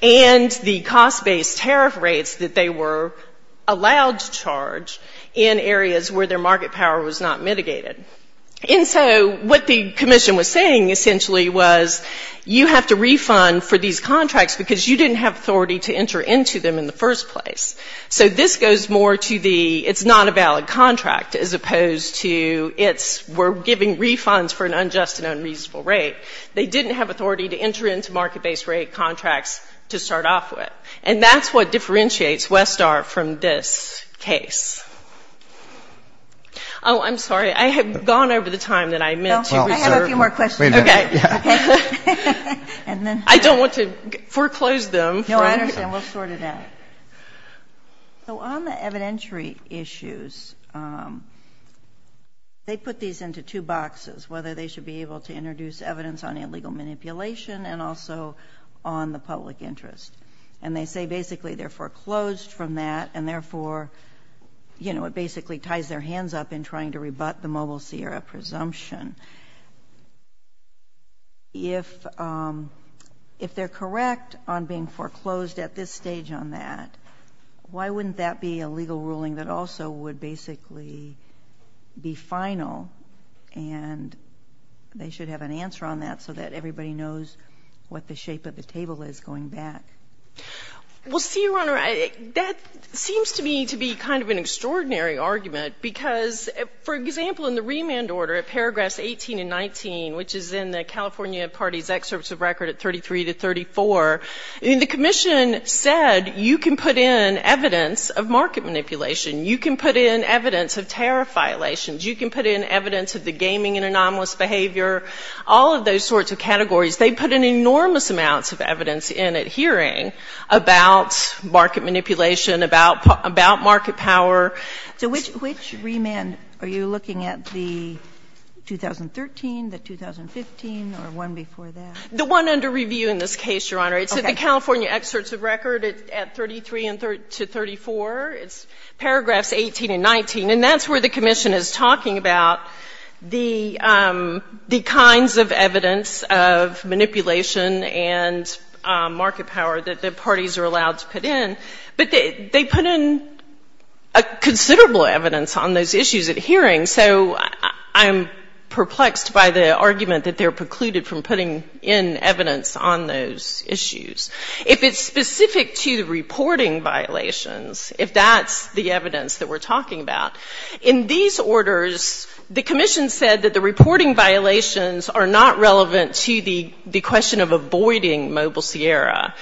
and the cost-based tariff rates that they were allowed to charge in areas where their market power was not mitigated. And so what the Commission was saying, essentially, was you have to refund for these contracts because you didn't have authority to enter into them in the first place. So this goes more to the it's not a valid contract as opposed to we're giving refunds for an unjust and unreasonable rate. They didn't have authority to enter into market-based rate contracts to start off with. And that's what differentiates Westar from this case. Oh, I'm sorry. I have gone over the time that I meant to reserve. I have a few more questions. Okay. I don't want to foreclose them. No, I understand. We'll sort it out. So on the evidentiary issues, they put these into two boxes, whether they should be able to introduce evidence on illegal manipulation and also on the public interest. And they say basically they're foreclosed from that, you know, it basically ties their hands up in trying to rebut the Mobile Sierra presumption. If they're correct on being foreclosed at this stage on that, why wouldn't that be a legal ruling that also would basically be final and they should have an answer on that so that everybody knows what the shape of the table is going back? Well, see, Your Honor, that seems to me to be kind of an extraordinary argument because, for example, in the remand order at paragraphs 18 and 19, which is in the California Party's excerpts of record at 33 to 34, the commission said you can put in evidence of market manipulation. You can put in evidence of terror violations. You can put in evidence of the gaming and anomalous behavior, all of those sorts of categories. They put in enormous amounts of evidence in at hearing about market manipulation, about market power. So which remand are you looking at, the 2013, the 2015, or one before that? The one under review in this case, Your Honor. It's the California excerpts of record at 33 to 34. It's paragraphs 18 and 19, and that's where the commission is talking about the kinds of evidence of manipulation and market power that the parties are allowed to put in. But they put in considerable evidence on those issues at hearing, so I'm perplexed by the argument that they're precluded from putting in evidence on those issues. If it's specific to reporting violations, if that's the evidence that we're talking about, In these orders, the commission said that the reporting violations are not relevant to the question of avoiding Mobile Sierra,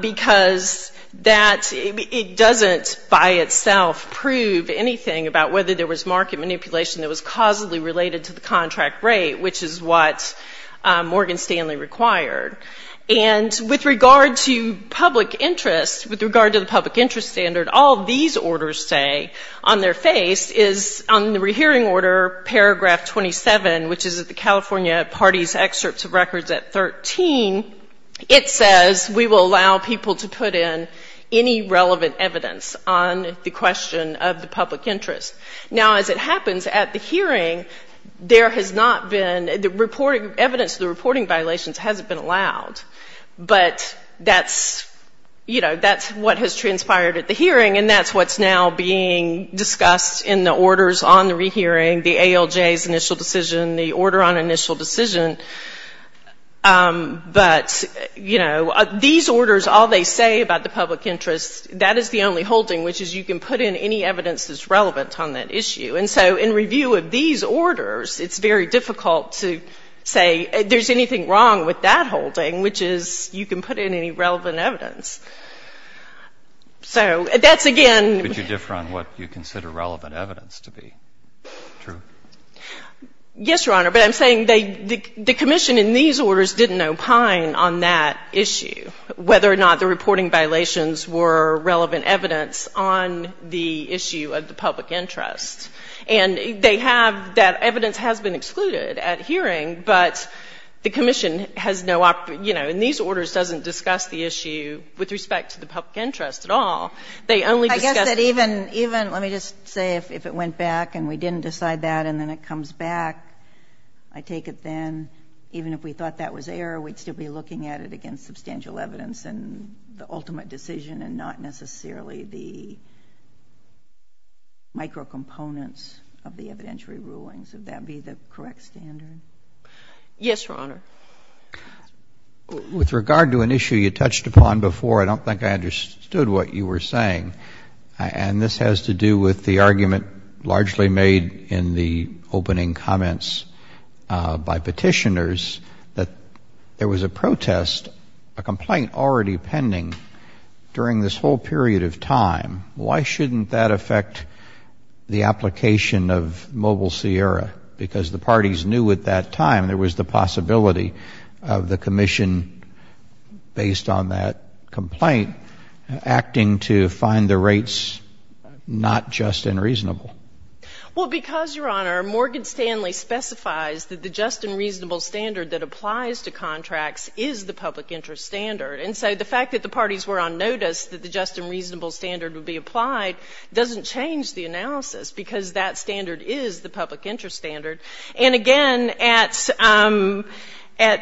because it doesn't by itself prove anything about whether there was market manipulation that was causally related to the contract rate, which is what Morgan Stanley required. And with regard to public interest, with regard to the public interest standard, all these orders say on their face is on the rehearing order, paragraph 27, which is the California parties' excerpts of records at 13, it says we will allow people to put in any relevant evidence on the question of the public interest. Now, as it happens, at the hearing, evidence of the reporting violations hasn't been allowed. But that's what has transpired at the hearing, and that's what's now being discussed in the orders on the rehearing, the ALJ's initial decision, the order on initial decision. But these orders, all they say about the public interest, that is the only holding, which is you can put in any evidence that's relevant on that issue. And so in review of these orders, it's very difficult to say there's anything wrong with that holding, which is you can put in any relevant evidence. So that's, again — Could you differ on what you consider relevant evidence to be? Yes, Your Honor, but I'm saying the commission in these orders didn't opine on that issue, whether or not the reporting violations were relevant evidence on the issue of the public interest. And they have — that evidence has been excluded at hearing, but the commission has no — you know, and these orders doesn't discuss the issue with respect to the public interest at all. They only discuss — I guess that even — let me just say if it went back and we didn't decide that and then it comes back, I take it then, even if we thought that was error, we'd still be looking at it against substantial evidence and the ultimate decision and not necessarily the micro-components of the evidentiary rulings. Would that be the correct standard? Yes, Your Honor. With regard to an issue you touched upon before, I don't think I understood what you were saying. And this has to do with the argument largely made in the opening comments by petitioners that there was a protest, a complaint already pending during this whole period of time. Why shouldn't that affect the application of Mobile Sierra? Because the parties knew at that time there was the possibility of the commission, based on that complaint, acting to find the rates not just and reasonable. Well, because, Your Honor, Morgan Stanley specifies that the just and reasonable standard that applies to contracts is the public interest standard. And so the fact that the parties were on notice that the just and reasonable standard would be applied doesn't change the analysis because that standard is the public interest standard. And again, at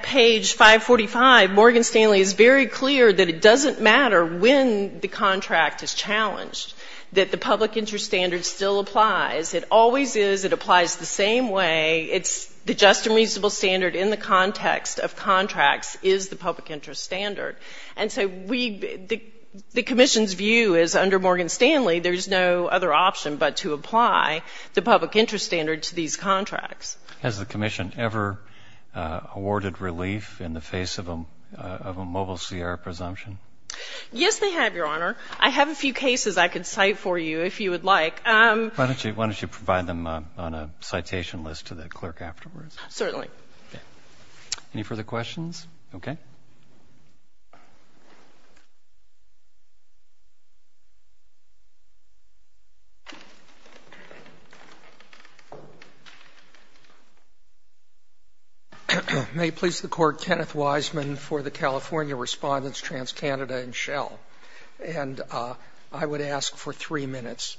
page 545, Morgan Stanley is very clear that it doesn't matter when the contract is challenged, that the public interest standard still applies. It always is. It applies the same way. The just and reasonable standard in the context of contracts is the public interest standard. And so the commission's view is, under Morgan Stanley, there's no other option but to apply the public interest standard to these contracts. Has the commission ever awarded relief in the face of a Mobile Sierra presumption? Yes, they have, Your Honor. I have a few cases I can cite for you, if you would like. Why don't you provide them on a citation list to the clerk afterwards? Certainly. Any further questions? Okay. May it please the Court, Kenneth Wiseman for the California Respondents, TransCanada and Shell. And I would ask for three minutes.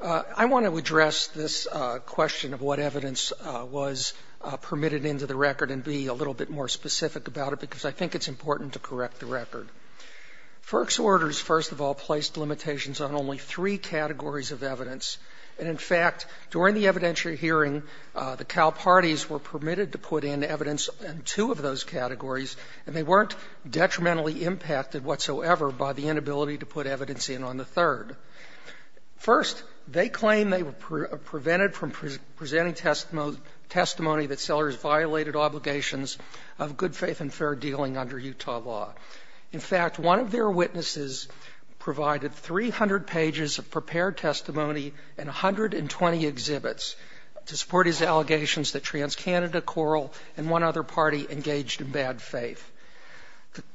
I want to address this question of what evidence was permitted into the record and be a little bit more specific about it because I think it's important to correct the record. FERC's orders, first of all, placed limitations on only three categories of evidence. And, in fact, during the evidentiary hearing, the Cal Parties were permitted to put in evidence in two of those categories, and they weren't detrimentally impacted whatsoever by the inability to put evidence in on the third. First, they claim they were prevented from presenting testimony that sellers violated obligations of good faith and fair dealing under Utah law. In fact, one of their witnesses provided 300 pages of prepared testimony and 120 exhibits to support his allegations that TransCanada, Coral, and one other party engaged in bad faith.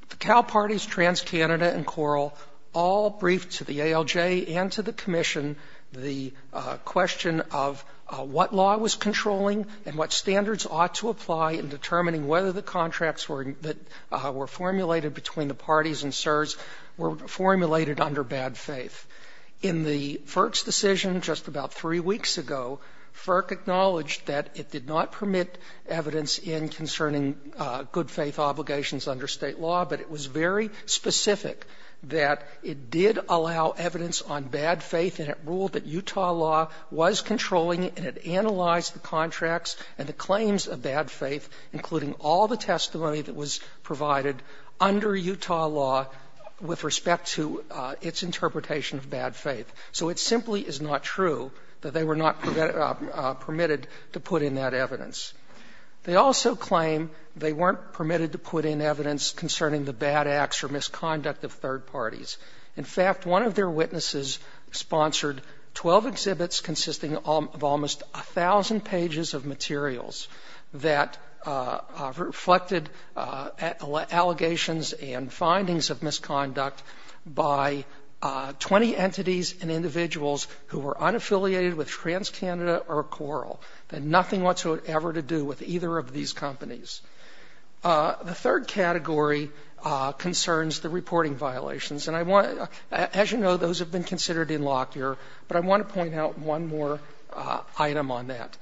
The Cal Parties, TransCanada, and Coral all briefed to the ALJ and to the Commission the question of what law was controlling and what standards ought to apply in determining whether the contracts that were formulated between the parties and CSRS were formulated under bad faith. In the FERC's decision just about three weeks ago, FERC acknowledged that it did not permit evidence in concerning good faith obligations under state law, but it was very specific that it did allow evidence on bad faith and it ruled that Utah law was controlling it including all the testimony that was provided under Utah law with respect to its interpretation of bad faith. So it simply is not true that they were not permitted to put in that evidence. They also claim they weren't permitted to put in evidence concerning the bad acts or misconduct of third parties. In fact, one of their witnesses sponsored 12 exhibits consisting of almost 1,000 pages of materials that reflected allegations and findings of misconduct by 20 entities and individuals who were unaffiliated with TransCanada or Coral and nothing whatsoever to do with either of these companies. The third category concerns the reporting violations. As you know, those have been considered in Lockyer, but I want to point out one more item on that.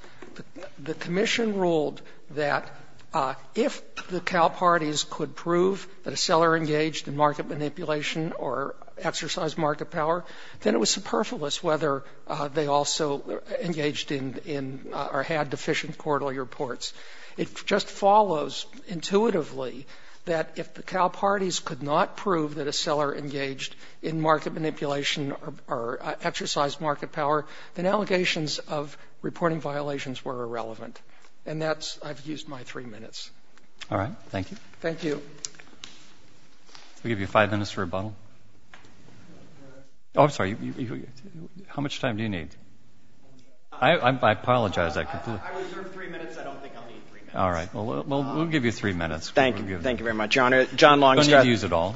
The commission ruled that if the Cal Parties could prove that a seller engaged in market manipulation or exercised market power, then it was superfluous whether they also engaged in or had deficient quarterly reports. It just follows intuitively that if the Cal Parties could not prove that a seller engaged in market manipulation or exercised market power, then allegations of reporting violations were irrelevant. And that's, I've used my three minutes. All right. Thank you. Thank you. We'll give you five minutes for rebuttal. Oh, I'm sorry. How much time do you need? I apologize. I reserve three minutes. I don't think I'll need three minutes. Thank you very much, Your Honor. I'm going to use it all.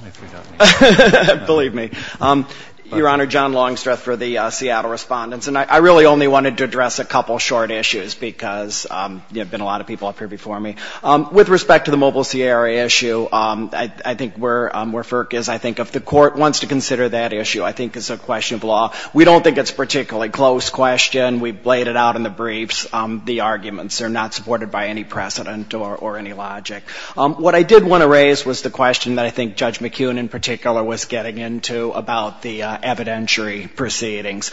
Believe me. Your Honor, John Longstreth for the Seattle Respondents. And I really only wanted to address a couple short issues because there have been a lot of people up here before me. With respect to the Mobile Sierra issue, I think where FERC is, I think if the court wants to consider that issue, I think it's a question of law. We don't think it's a particularly close question. We've laid it out in the briefs, the arguments. They're not supported by any precedent or any logic. What I did want to raise was the question that I think Judge McKeown, in particular, was getting into about the evidentiary proceedings.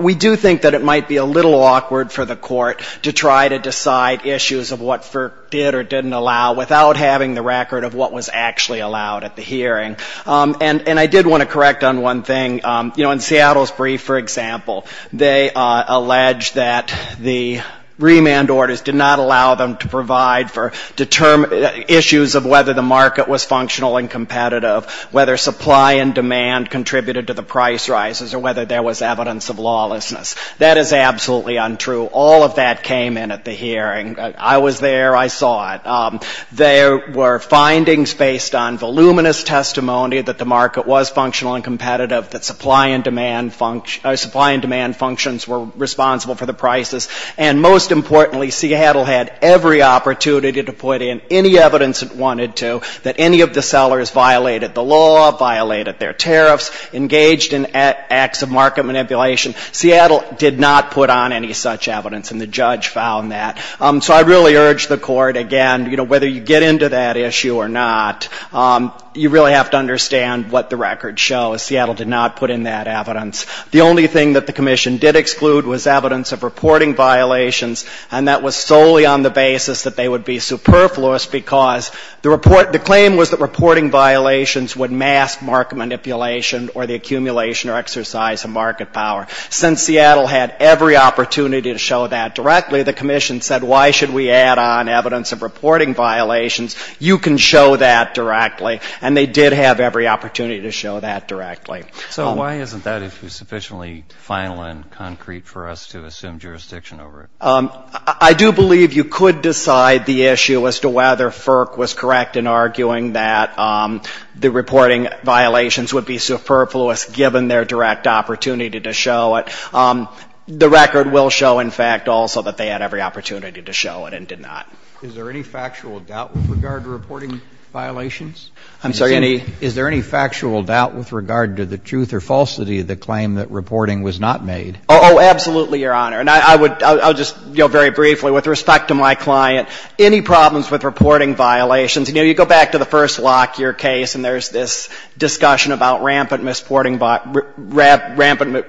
We do think that it might be a little awkward for the court to try to decide issues of what FERC did or didn't allow without having the record of what was actually allowed at the hearing. And I did want to correct on one thing. You know, in Seattle's brief, for example, they allege that the remand orders did not allow them to provide for issues of whether the market was functional and competitive, whether supply and demand contributed to the price rises or whether there was evidence of lawlessness. That is absolutely untrue. All of that came in at the hearing. I was there. I saw it. There were findings based on voluminous testimony that the market was functional and competitive, that supply and demand functions were responsible for the prices. And most importantly, Seattle had every opportunity to put in any evidence it wanted to, that any of the sellers violated the law, violated their tariffs, engaged in acts of market manipulation. Seattle did not put on any such evidence, and the judge found that. So I really urge the court, again, you know, whether you get into that issue or not, you really have to understand what the record shows. Seattle did not put in that evidence. The only thing that the commission did exclude was evidence of reporting violations, and that was solely on the basis that they would be superfluous because the claim was that reporting violations would mask market manipulation or the accumulation or exercise of market power. Since Seattle had every opportunity to show that directly, the commission said why should we add on evidence of reporting violations? You can show that directly. And they did have every opportunity to show that directly. So why isn't that sufficiently final and concrete for us to assume jurisdiction over it? I do believe you could decide the issue as to whether FERC was correct in arguing that the reporting violations would be superfluous given their direct opportunity to show it. The record will show, in fact, also that they had every opportunity to show it and did not. Is there any factual doubt with regard to reporting violations? I'm sorry, any? Is there any factual doubt with regard to the truth or falsity of the claim that reporting was not made? Oh, absolutely, Your Honor. And I would just very briefly, with respect to my client, any problems with reporting violations. You know, you go back to the first lock, your case, and there's this discussion about rampant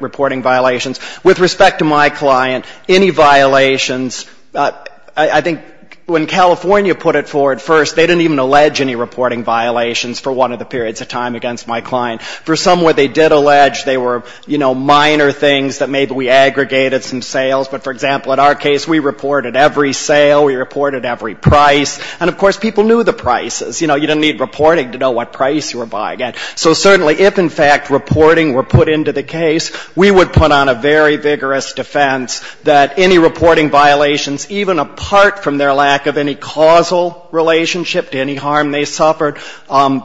reporting violations. With respect to my client, any violations, I think when California put it forward first, they didn't even allege any reporting violations for one of the periods of time against my client. For some, what they did allege, they were, you know, minor things that maybe we aggregated some sales. But, for example, in our case, we reported every sale. We reported every price. And, of course, people knew the prices. You know, you didn't need reporting to know what price you were buying at. So, certainly, if, in fact, reporting were put into the case, we would put on a very vigorous defense that any reporting violations, even apart from their lack of any causal relationship to any harm they suffered,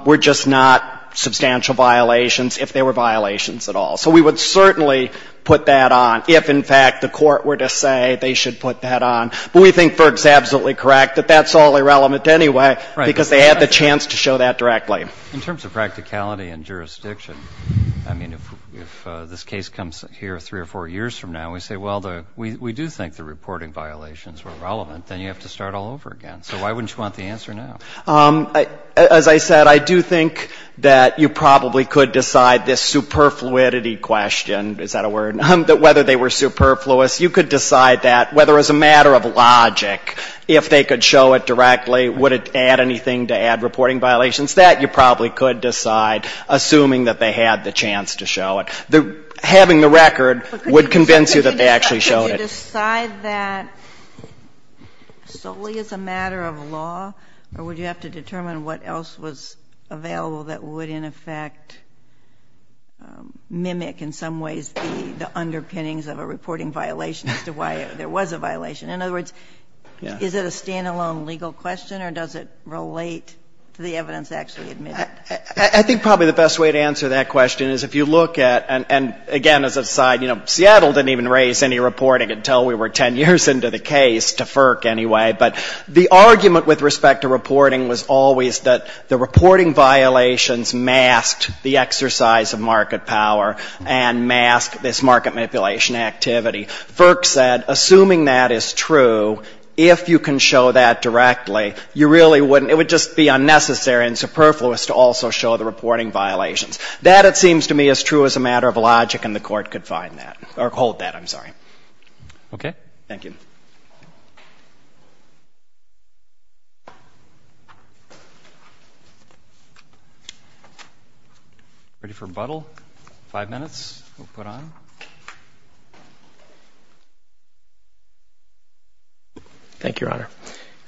were just not substantial violations, if they were violations at all. So we would certainly put that on if, in fact, the court were to say they should put that on. But we think Berg's absolutely correct that that's all irrelevant anyway, because they had the chance to show that directly. In terms of practicality and jurisdiction, I mean, if this case comes here three or four years from now, we say, well, we do think the reporting violations were relevant. Then you have to start all over again. So why wouldn't you want the answer now? As I said, I do think that you probably could decide this superfluidity question. Is that a word? Whether they were superfluous, you could decide that. Whether it was a matter of logic, if they could show it directly, would it add anything to add reporting violations? That you probably could decide, assuming that they had the chance to show it. Having the record would convince you that they actually showed it. Would you decide that solely as a matter of law, or would you have to determine what else was available that would, in effect, mimic in some ways the underpinnings of a reporting violation as to why there was a violation? In other words, is it a stand-alone legal question, or does it relate to the evidence actually admitted? I think probably the best way to answer that question is if you look at, and again, as a side, Seattle didn't even raise any reporting until we were ten years into the case, to FERC anyway. But the argument with respect to reporting was always that the reporting violations masked the exercise of market power and masked this market manipulation activity. FERC said, assuming that is true, if you can show that directly, it would just be unnecessary and superfluous to also show the reporting violations. That, it seems to me, is true as a matter of logic, and the court could find that, or hold that, I'm sorry. Okay. Thank you. Ready for Buttle? Five minutes. We'll put on. Thank you, Your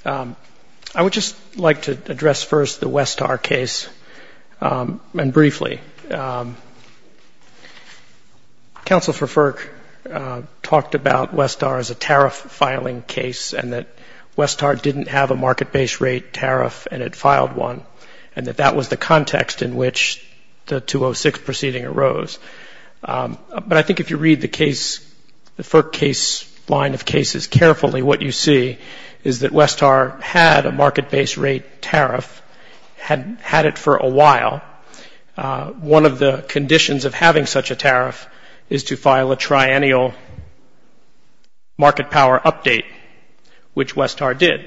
Honor. I would just like to address first the Westar case, and briefly. Counsel for FERC talked about Westar as a tariff-filing case, and that Westar didn't have a market-based rate tariff, and it filed one, and that that was the context in which the 206 proceeding arose. But I think if you read the FERC case line of cases carefully, what you see is that Westar had a market-based rate tariff, had it for a while, one of the conditions of having such a tariff is to file a triennial market power update, which Westar did.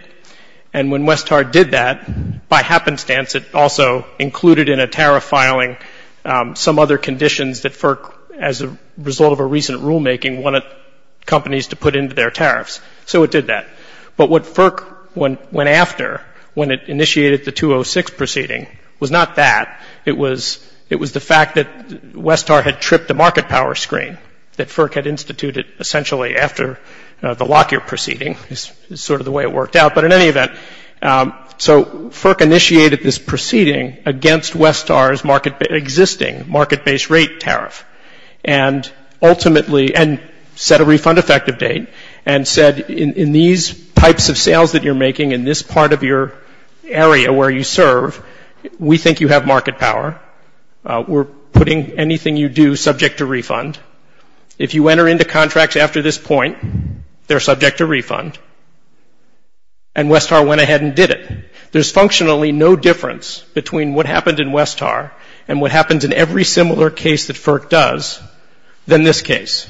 And when Westar did that, by happenstance, it also included in a tariff filing some other conditions that FERC, as a result of a recent rulemaking, wanted companies to put into their tariffs. So it did that. But what FERC went after when it initiated the 206 proceeding was not that. It was the fact that Westar had tripped the market power screen that FERC had instituted, essentially, after the Lockyer proceeding. It's sort of the way it worked out. But in any event, so FERC initiated this proceeding against Westar's existing market-based rate tariff, and ultimately set a refund effective date and said, in these types of sales that you're making in this part of your area where you serve, we think you have market power. We're putting anything you do subject to refund. If you enter into contracts after this point, they're subject to refund. And Westar went ahead and did it. There's functionally no difference between what happened in Westar and what happens in every similar case that FERC does than this case.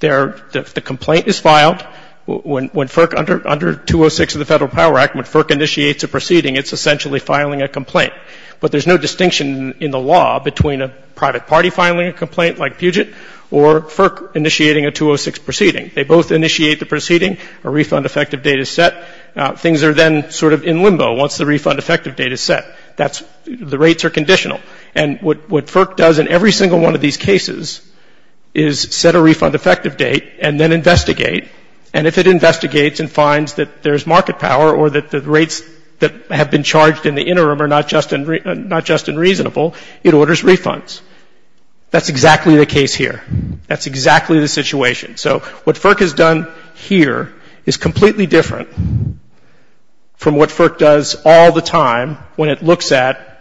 The complaint is filed. When FERC, under 206 of the Federal Power Act, when FERC initiates a proceeding, it's essentially filing a complaint. But there's no distinction in the law between a private party filing a complaint like Puget or FERC initiating a 206 proceeding. They both initiate the proceeding. A refund effective date is set. Things are then sort of in limbo once the refund effective date is set. The rates are conditional. And what FERC does in every single one of these cases is set a refund effective date and then investigate, and if it investigates and finds that there's market power or that the rates that have been charged in the interim are not just unreasonable, it orders refunds. That's exactly the case here. That's exactly the situation. So what FERC has done here is completely different from what FERC does all the time when it looks at,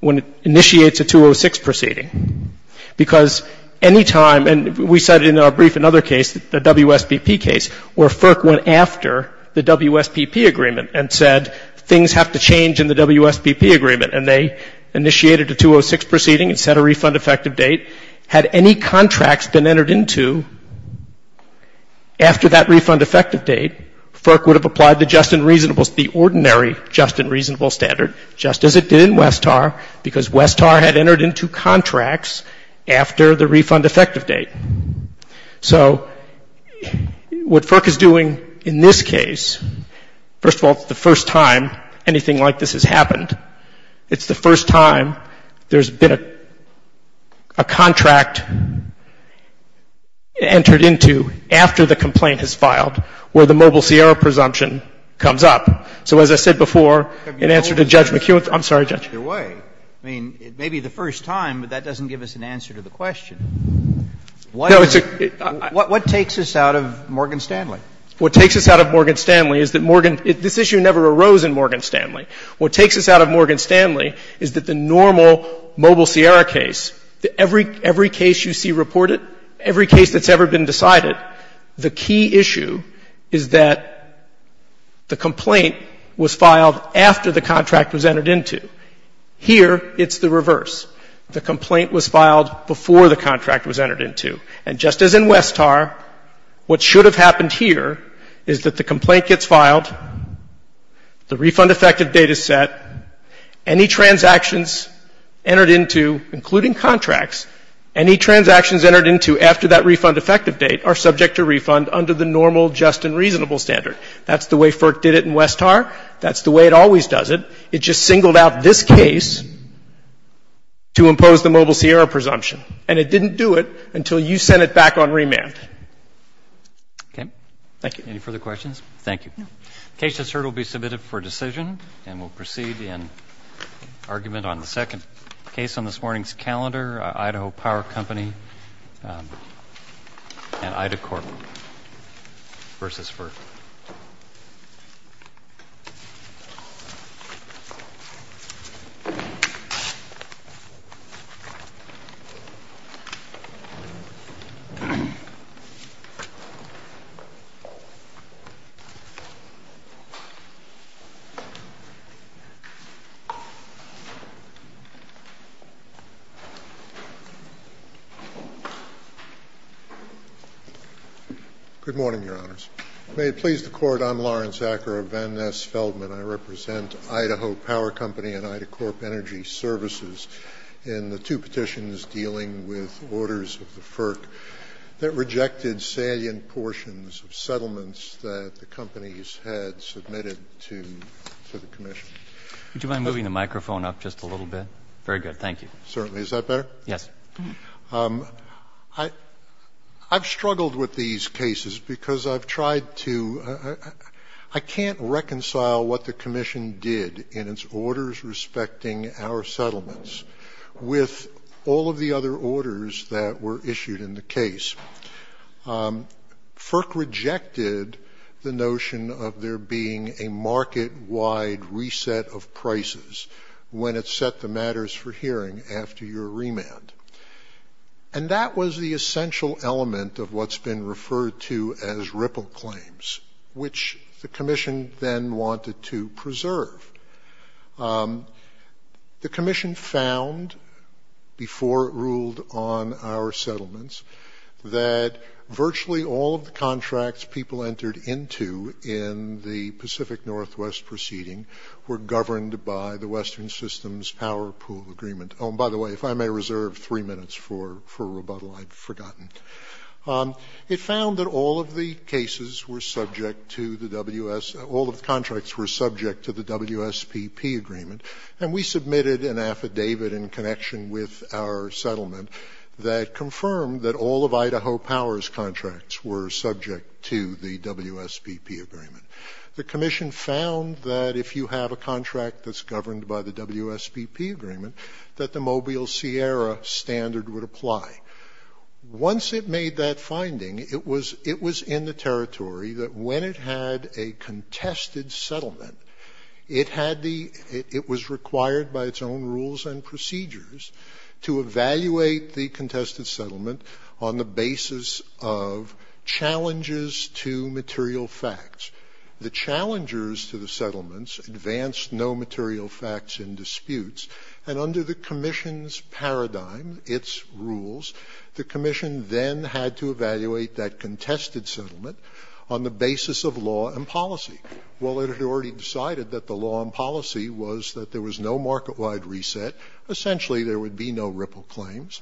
when it initiates a 206 proceeding. Because any time, and we said in our brief another case, the WSPP case, where FERC went after the WSPP agreement and said things have to change in the WSPP agreement and they initiated a 206 proceeding and set a refund effective date, had any contracts been entered into after that refund effective date, FERC would have applied the ordinary just and reasonable standard just as it did in Westar because Westar had entered into contracts after the refund effective date. So what FERC is doing in this case, first of all, it's the first time anything like this has happened. It's the first time there's been a contract entered into after the complaint is filed where the Mobile Sierra presumption comes up. So as I said before, in answer to Judge McHugh, I'm sorry, Judge. Your way. I mean, it may be the first time, but that doesn't give us an answer to the question. What takes us out of Morgan Stanley? What takes us out of Morgan Stanley is that Morgan — this issue never arose in Morgan Stanley. What takes us out of Morgan Stanley is that the normal Mobile Sierra case, every case you see reported, every case that's ever been decided, the key issue is that the complaint was filed after the contract was entered into. Here, it's the reverse. The complaint was filed before the contract was entered into. And just as in Westar, what should have happened here is that the complaint gets filed, the refund effective date is set, any transactions entered into, including contracts, any transactions entered into after that refund effective date are subject to refund under the normal just and reasonable standard. That's the way FERC did it in Westar. That's the way it always does it. It just singled out this case to impose the Mobile Sierra presumption. And it didn't do it until you sent it back on remand. Okay. Thank you. Any further questions? Thank you. The case that's heard will be submitted for decision, and we'll proceed in argument on the second case on this morning's calendar, Idaho Power Company and Ida Corp versus FERC. Good morning, Your Honors. May it please the Court, I'm Lawrence Acker of Van Ness Feldman. I represent Idaho Power Company and Ida Corp Energy Services in the two petitions dealing with orders of the FERC that rejected salient portions of settlements that the companies had submitted to the Commission. Would you mind moving the microphone up just a little bit? Very good. Thank you. Certainly. Is that better? Yes. I've struggled with these cases because I've tried to – I can't reconcile what the Commission did in its orders respecting our settlements with all of the other orders that were issued in the case. FERC rejected the notion of there being a market-wide reset of prices when it set the matters for hearing after your remand. And that was the essential element of what's been referred to as ripple claims, which the Commission then wanted to preserve. The Commission found, before it ruled on our settlements, that virtually all of the contracts people entered into in the Pacific Northwest proceeding were governed by the Western Systems Power Pool Agreement. Oh, and by the way, if I may reserve three minutes for rebuttal, I'd forgotten. It found that all of the cases were subject to the WS – all of the contracts were subject to the WSPP agreement, and we submitted an affidavit in connection with our settlement that confirmed that all of Idaho Power's contracts were subject to the WSPP agreement. The Commission found that if you have a contract that's governed by the WSPP agreement, that the Mobile Sierra standard would apply. Once it made that finding, it was in the territory that when it had a contested settlement, it had the – it was required by its own rules and procedures to evaluate the contested settlement on the basis of challenges to material facts. The challengers to the settlements advanced no material facts in disputes, and under the Commission's paradigm, its rules, the Commission then had to evaluate that contested settlement on the basis of law and policy. While it had already decided that the law and policy was that there was no market-wide reset, essentially there would be no ripple claims,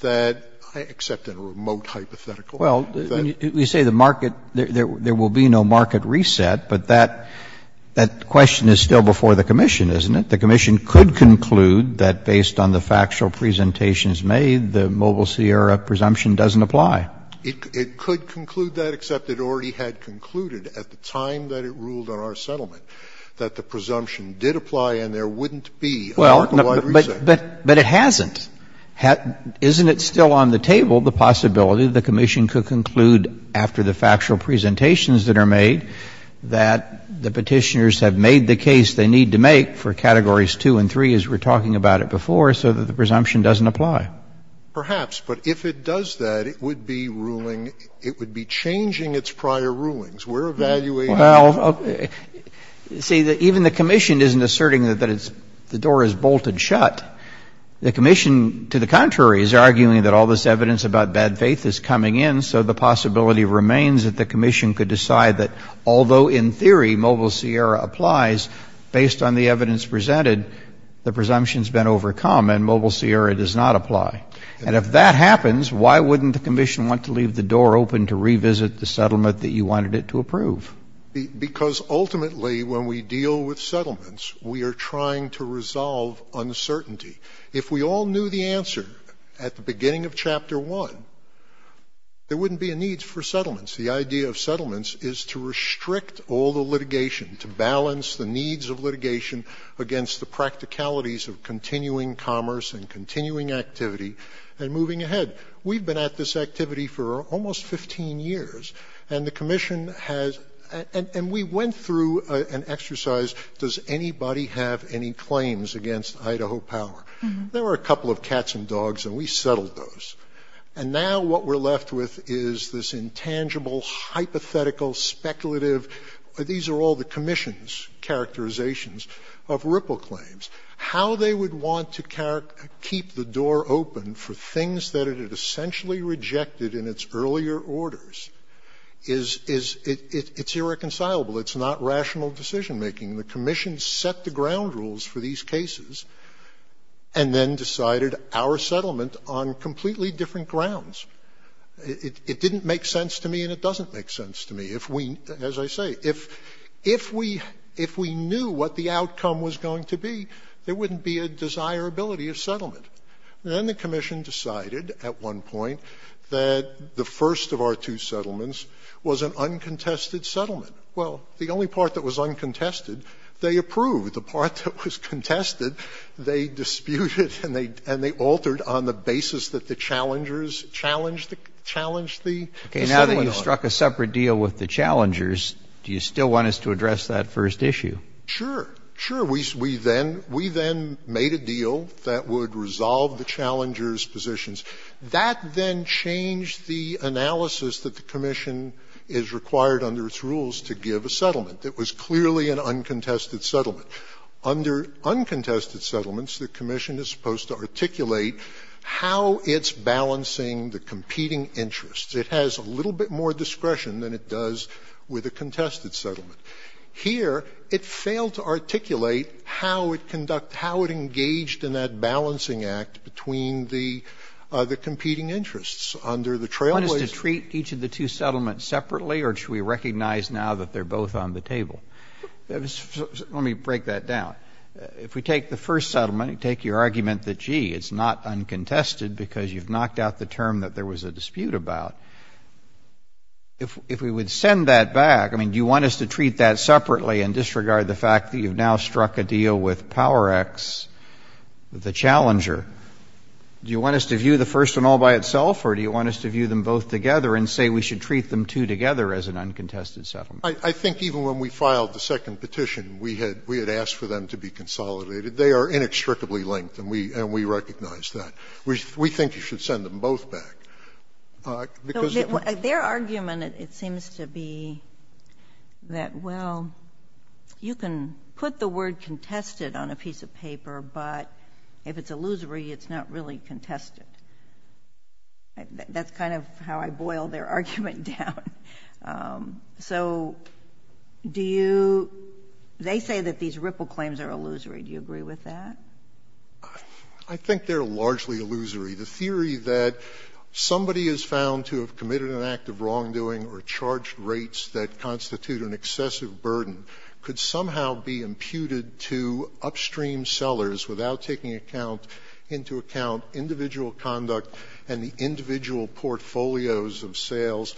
that – except in a remote hypothetical – Well, you say the market – there will be no market reset, but that question is still before the Commission, isn't it? The Commission could conclude that based on the factual presentations made, the Mobile Sierra presumption doesn't apply. It could conclude that, except it already had concluded at the time that it ruled on our settlement that the presumption did apply and there wouldn't be a market-wide reset. But it hasn't. Isn't it still on the table the possibility the Commission could conclude after the factual presentations that are made that the petitioners have made the case they need to make for Categories 2 and 3, as we were talking about it before, so that the presumption doesn't apply? Perhaps, but if it does that, it would be ruling – it would be changing its prior rulings. Well, you see, even the Commission isn't asserting that the door is bolted shut. The Commission, to the contrary, is arguing that all this evidence about bad faith is coming in, so the possibility remains that the Commission could decide that, although in theory Mobile Sierra applies based on the evidence presented, the presumption's been overcome and Mobile Sierra does not apply. And if that happens, why wouldn't the Commission want to leave the door open to revisit the settlement that you wanted it to approve? Because ultimately, when we deal with settlements, we are trying to resolve uncertainty. If we all knew the answer at the beginning of Chapter 1, there wouldn't be a need for settlements. The idea of settlements is to restrict all the litigation, to balance the needs of litigation against the practicalities of continuing commerce and continuing activity and moving ahead. We've been at this activity for almost 15 years, and the Commission has – and we went through an exercise, does anybody have any claims against Idaho power? There were a couple of cats and dogs, and we settled those. And now what we're left with is this intangible, hypothetical, speculative – these are all the Commission's characterizations of ripple claims. How they would want to keep the door open for things that it had essentially rejected in its earlier orders is – it's irreconcilable. It's not rational decision-making. The Commission set the ground rules for these cases and then decided our settlement on completely different grounds. It didn't make sense to me, and it doesn't make sense to me. As I say, if we knew what the outcome was going to be, there wouldn't be a desirability of settlement. Then the Commission decided at one point that the first of our two settlements was an uncontested settlement. Well, the only part that was uncontested, they approved. The part that was contested, they disputed, and they altered on the basis that the challengers challenged the settlement. Even though you struck a separate deal with the challengers, do you still want us to address that first issue? Sure, sure. We then made a deal that would resolve the challengers' positions. That then changed the analysis that the Commission is required under its rules to give a settlement that was clearly an uncontested settlement. Under uncontested settlements, the Commission is supposed to articulate how it's balancing the competing interests. It has a little bit more discretion than it does with a contested settlement. Here, it failed to articulate how it engaged in that balancing act between the competing interests under the trailblazer. One is to treat each of the two settlements separately, or should we recognize now that they're both on the table? Let me break that down. It's not uncontested because you've knocked out the term that there was a dispute about. If we would send that back, I mean, do you want us to treat that separately and disregard the fact that you've now struck a deal with PowerX, the challenger? Do you want us to view the first one all by itself, or do you want us to view them both together and say we should treat them two together as an uncontested settlement? I think even when we filed the second petition, we had asked for them to be consolidated. They are inextricably linked, and we recognize that. We think you should send them both back. Their argument, it seems to be that, well, you can put the word contested on a piece of paper, but if it's illusory, it's not really contested. That's kind of how I boil their argument down. So they say that these Ripple claims are illusory. Do you agree with that? I think they're largely illusory. The theory that somebody is found to have committed an act of wrongdoing or charged rates that constitute an excessive burden could somehow be imputed to upstream sellers without taking into account individual conduct and the individual portfolios of sales.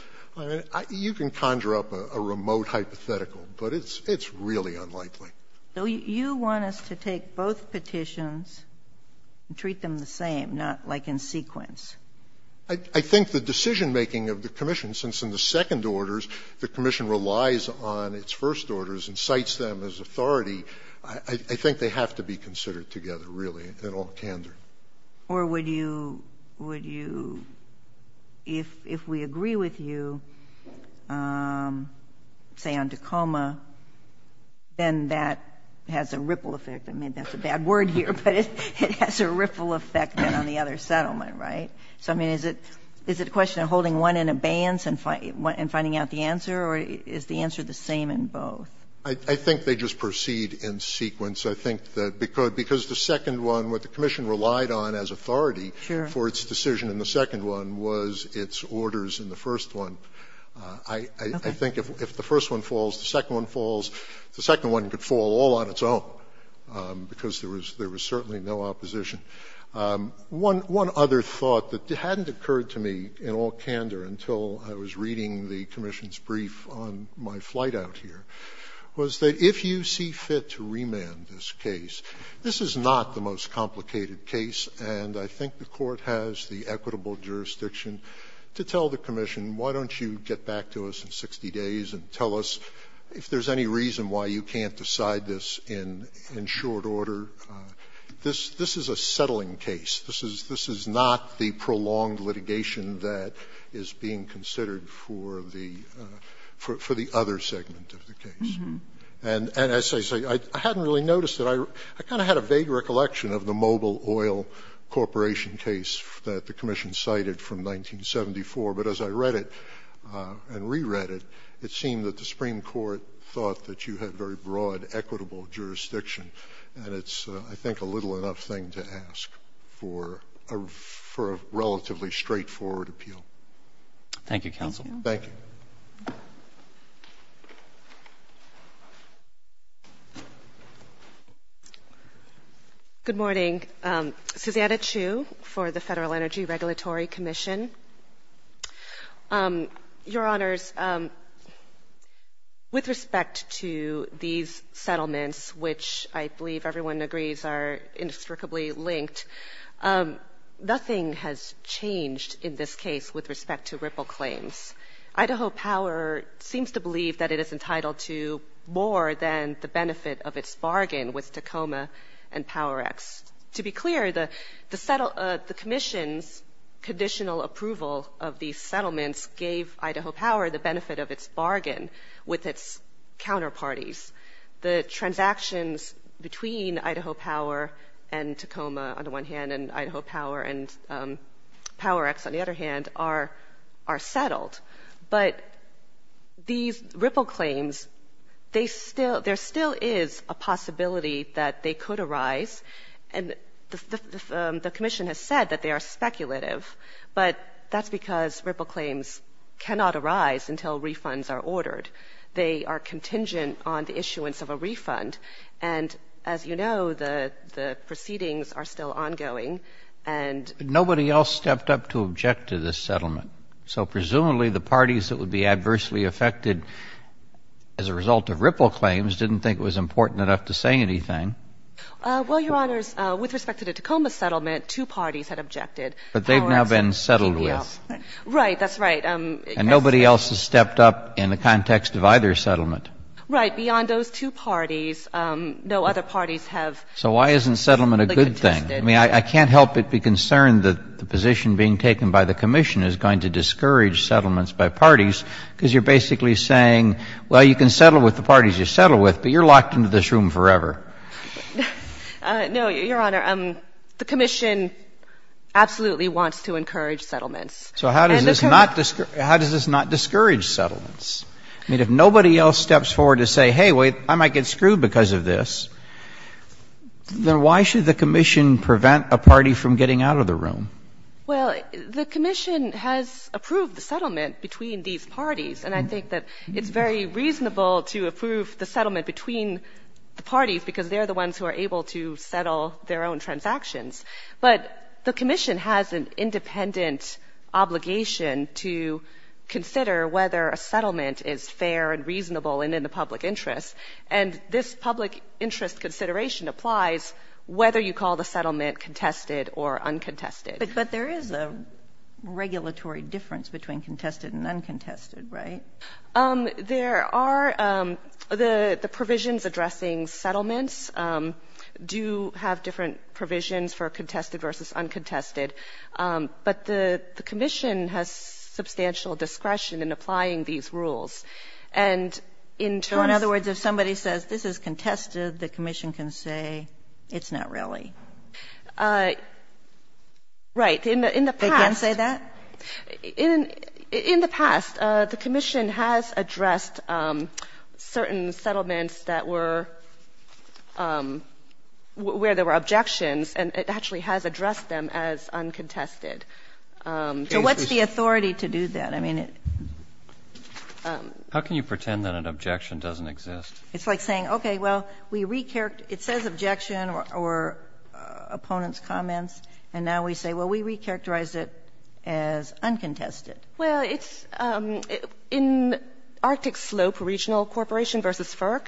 You can conjure up a remote hypothetical, but it's really unlikely. So you want us to take both petitions and treat them the same, not like in sequence? I think the decision-making of the commission, since in the second orders, the commission relies on its first orders and cites them as authority, I think they have to be considered together, really, in all candor. Or would you – if we agree with you, say, on Tacoma, then that has a ripple effect. I mean, that's a bad word here, but it has a ripple effect on the other settlement, right? So, I mean, is it a question of holding one in abeyance and finding out the answer, or is the answer the same in both? I think they just proceed in sequence. Because the second one, what the commission relied on as authority for its decision in the second one was its orders in the first one. I think if the first one falls, the second one falls, the second one could fall all on its own because there was certainly no opposition. One other thought that hadn't occurred to me in all candor until I was reading the commission's brief on my flight out here was that if you see fit to remand this case, this is not the most complicated case, and I think the court has the equitable jurisdiction to tell the commission, why don't you get back to us in 60 days and tell us if there's any reason why you can't decide this in short order. This is a settling case. This is not the prolonged litigation that is being considered for the other segment of the case. And as I say, I hadn't really noticed it. I kind of had a vague recollection of the Mobil Oil Corporation case that the commission cited from 1974, but as I read it and reread it, it seemed that the Supreme Court thought that you had very broad, equitable jurisdiction, and it's, I think, a little enough thing to ask for a relatively straightforward appeal. Thank you, counsel. Thank you. Good morning. Susanna Chu for the Federal Energy Regulatory Commission. Your Honors, with respect to these settlements, which I believe everyone agrees are indestructibly linked, nothing has changed in this case with respect to ripple claims. Idaho Power seems to believe that it is entitled to more than the benefit of its bargain with Tacoma and Power-X. To be clear, the commission's conditional approval of these settlements gave Idaho Power the benefit of its bargain with its counterparties. The transactions between Idaho Power and Tacoma, on the one hand, and Idaho Power and Power-X, on the other hand, are settled. But these ripple claims, there still is a possibility that they could arise, and the commission has said that they are speculative, but that's because ripple claims cannot arise until refunds are ordered. They are contingent on the issuance of a refund, and as you know, the proceedings are still ongoing. Nobody else stepped up to object to this settlement. So presumably the parties that would be adversely affected as a result of ripple claims didn't think it was important enough to say anything. Well, Your Honors, with respect to the Tacoma settlement, two parties had objected. But they've now been settled with. Right, that's right. And nobody else has stepped up in the context of either settlement. Right, beyond those two parties, no other parties have. So why isn't settlement a good thing? I mean, I can't help but be concerned that the position being taken by the commission is going to discourage settlements by parties, because you're basically saying, well, you can settle with the parties you settle with, but you're locked into this room forever. No, Your Honor, the commission absolutely wants to encourage settlements. So how does this not discourage settlements? I mean, if nobody else steps forward to say, hey, wait, I might get screwed because of this, then why should the commission prevent a party from getting out of the room? Well, the commission has approved the settlement between these parties, and I think that it's very reasonable to approve the settlement between the parties, because they're the ones who are able to settle their own transactions. But the commission has an independent obligation to consider whether a settlement is fair and reasonable and in the public interest, and this public interest consideration applies whether you call the settlement contested or uncontested. But there is a regulatory difference between contested and uncontested, right? There are. The provisions addressing settlements do have different provisions for contested versus uncontested, but the commission has substantial discretion in applying these rules. So in other words, if somebody says this is contested, the commission can say it's not really? Right. They can't say that? In the past, the commission has addressed certain settlements where there were objections, and it actually has addressed them as uncontested. So what's the authority to do that? How can you pretend that an objection doesn't exist? It's like saying, okay, well, it says objection or opponent's comments, and now we say, well, we recharacterize it as uncontested. Well, in Arctic Slope Regional Corporation versus FERC,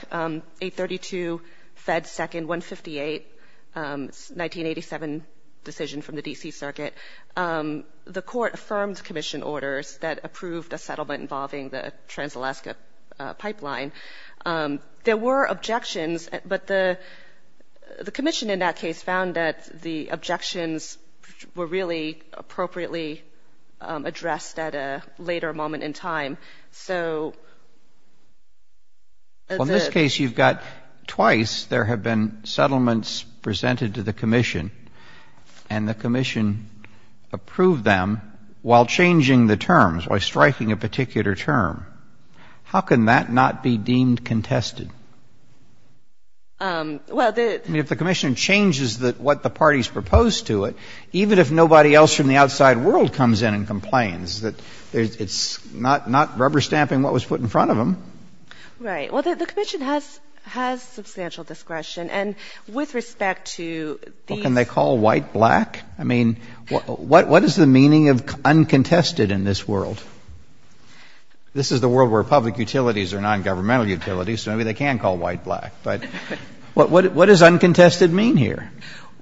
832 Fed 2nd 158, 1987 decision from the D.C. Circuit, the court affirmed commission orders that approved a settlement involving the Trans-Alaska Pipeline. There were objections, but the commission, in that case, found that the objections were really appropriately addressed at a later moment in time. Well, in this case, you've got twice there have been settlements presented to the commission, and the commission approved them while changing the terms, while striking a particular term. How can that not be deemed contested? I mean, if the commission changes what the parties propose to it, even if nobody else from the outside world comes in and complains, it's not rubber stamping what was put in front of them. Right. Well, the commission has substantial discretion, and with respect to... What can they call white-black? I mean, what is the meaning of uncontested in this world? This is the world where public utilities are non-governmental utilities, so maybe they can call white-black, but what does uncontested mean here?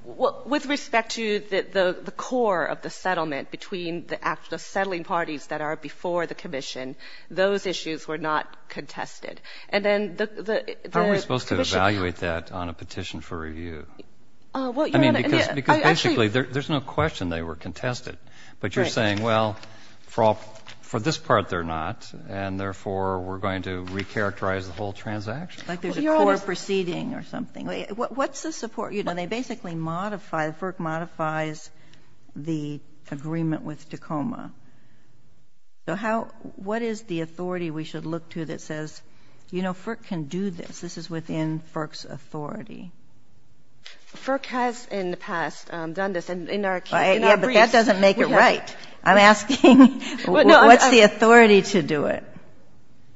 Well, with respect to the core of the settlement between the settling parties that are before the commission, those issues were not contested, and then the... How are we supposed to evaluate that on a petition for review? I mean, because basically there's no question they were contested, but you're saying, well, for this part they're not, and therefore we're going to recharacterize the whole transaction? Like there's a court proceeding or something. What's the support? You know, they basically modify, FERC modifies the agreement with Tacoma. So what is the authority we should look to that says, you know, FERC can do this, this is within FERC's authority? FERC has in the past done this, and in our case... That doesn't make it right. I'm asking, what's the authority to do it?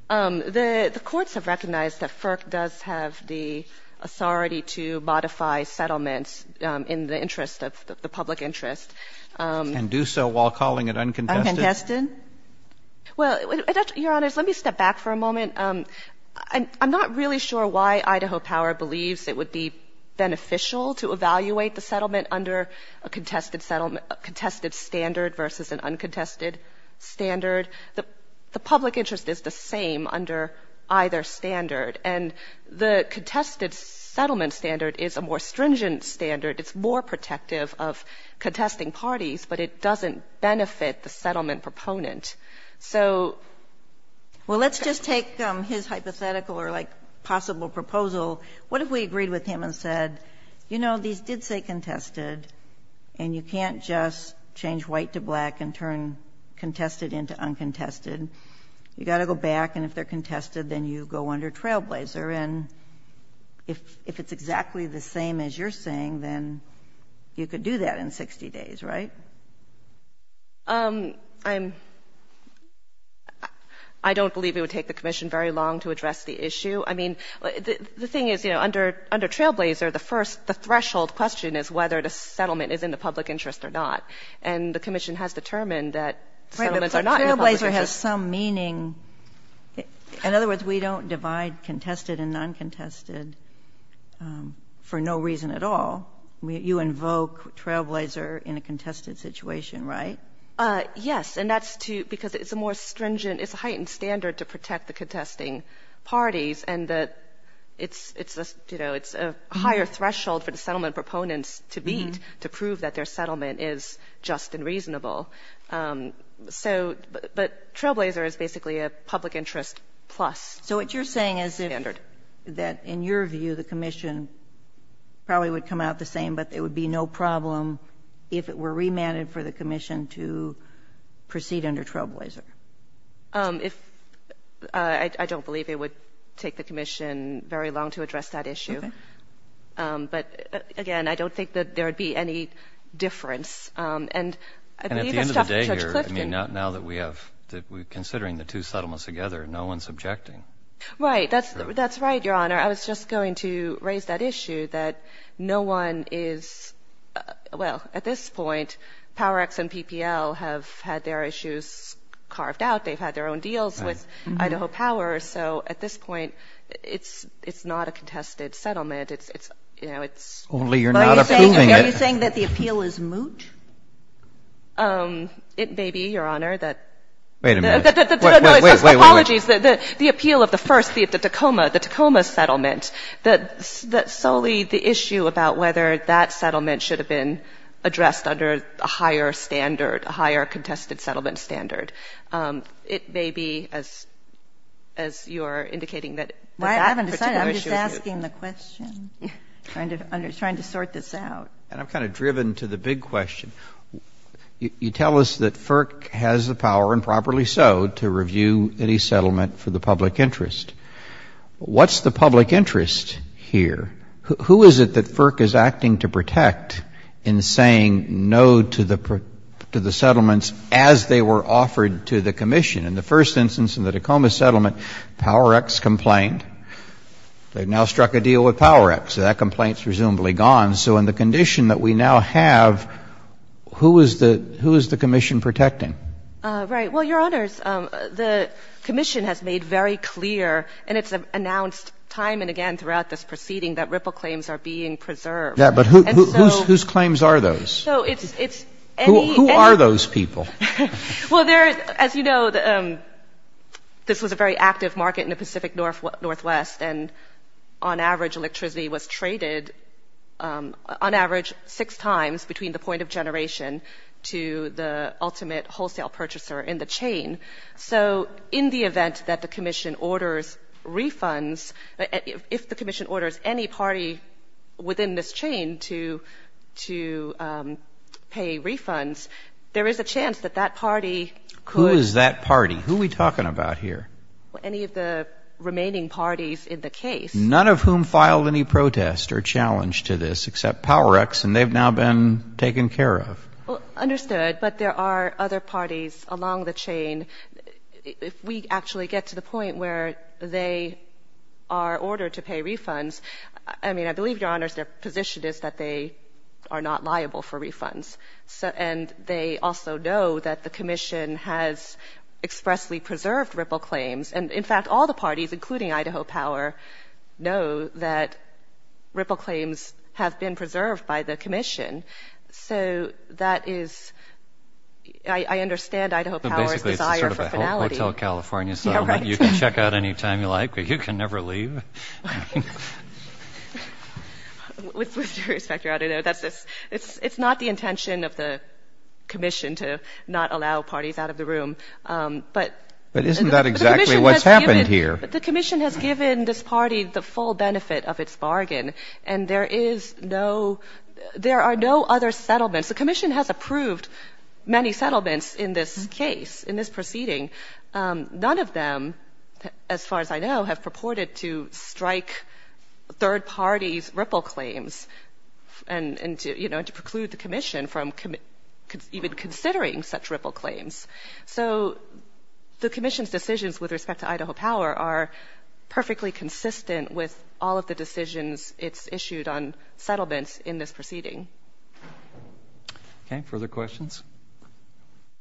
The courts have recognized that FERC does have the authority to modify settlements in the interest of the public interest. And do so while calling it uncontested? Uncontested. Well, Your Honor, let me step back for a moment. I'm not really sure why Idaho Power believes it would be beneficial to evaluate the settlement under a contested standard versus an uncontested standard. The public interest is the same under either standard, and the contested settlement standard is a more stringent standard. It's more protective of contesting parties, but it doesn't benefit the settlement proponent. So, well, let's just take his hypothetical or like possible proposal. What if we agreed with him and said, you know, these did say contested, and you can't just change white to black and turn contested into uncontested. You've got to go back, and if they're contested, then you go under trailblazer. And if it's exactly the same as you're saying, then you could do that in 60 days, right? I don't believe it would take the commission very long to address the issue. I mean, the thing is, you know, under trailblazer, the threshold question is whether the settlement is in the public interest or not. And the commission has determined that settlements are not in the public interest. Trailblazer has some meaning. In other words, we don't divide contested and uncontested for no reason at all. You invoke trailblazer in a contested situation, right? Yes, because it's a heightened standard to protect the contesting parties, and it's a higher threshold for the settlement proponents to beat to prove that their settlement is just and reasonable. But trailblazer is basically a public interest plus standard. So what you're saying is that, in your view, the commission probably would come out the same, but it would be no problem if it were remanded for the commission to proceed under trailblazer. I don't believe it would take the commission very long to address that issue. But, again, I don't think that there would be any difference. And at the end of the day here, now that we're considering the two settlements together, no one's objecting. Right. That's right, Your Honor. I was just going to raise that issue that no one is – well, at this point, PowerX and PPL have had their issues carved out. They've had their own deals with Idaho Power. Solely you're not approving it. Are you saying that the appeal is moot? It may be, Your Honor. Wait a minute. Apologies. The appeal of the first, the Tacoma settlement, solely the issue about whether that settlement should have been addressed under a higher standard, a higher contested settlement standard. Trying to sort this out. I'm kind of driven to the big question. You tell us that FERC has the power, and properly so, to review any settlement for the public interest. What's the public interest here? Who is it that FERC is acting to protect in saying no to the settlements as they were offered to the commission? In the first instance, in the Tacoma settlement, PowerX complained. They've now struck a deal with PowerX. That complaint is presumably gone. So in the condition that we now have, who is the commission protecting? Right. Well, Your Honor, the commission has made very clear, and it's announced time and again throughout this proceeding, that RIPPLE claims are being preserved. Yeah, but whose claims are those? Who are those people? Well, as you know, this was a very active market in the Pacific Northwest, and on average electricity was traded on average six times between the point of generation to the ultimate wholesale purchaser in the chain. So in the event that the commission orders refunds, if the commission orders any party within this chain to pay refunds, there is a chance that that party could – Who is that party? Who are we talking about here? Any of the remaining parties in the case. None of whom filed any protest or challenge to this except PowerX, and they've now been taken care of. Well, understood, but there are other parties along the chain. We actually get to the point where they are ordered to pay refunds. I mean, I believe, Your Honor, their position is that they are not liable for refunds, and they also know that the commission has expressly preserved RIPPLE claims. And, in fact, all the parties, including Idaho Power, know that RIPPLE claims have been preserved by the commission. So that is – I understand Idaho Power's desire for finality. So basically it's sort of a hotel California settlement. You can check out any time you like, but you can never leave. With due respect, Your Honor, it's not the intention of the commission to not allow parties out of the room. But isn't that exactly what's happened here? The commission has given this party the full benefit of its bargain, and there is no – there are no other settlements. The commission has approved many settlements in this case, in this proceeding. None of them, as far as I know, have purported to strike third parties' RIPPLE claims and to preclude the commission from even considering such RIPPLE claims. So the commission's decisions with respect to Idaho Power are perfectly consistent with all of the decisions it's issued on settlements in this proceeding. Okay. Further questions?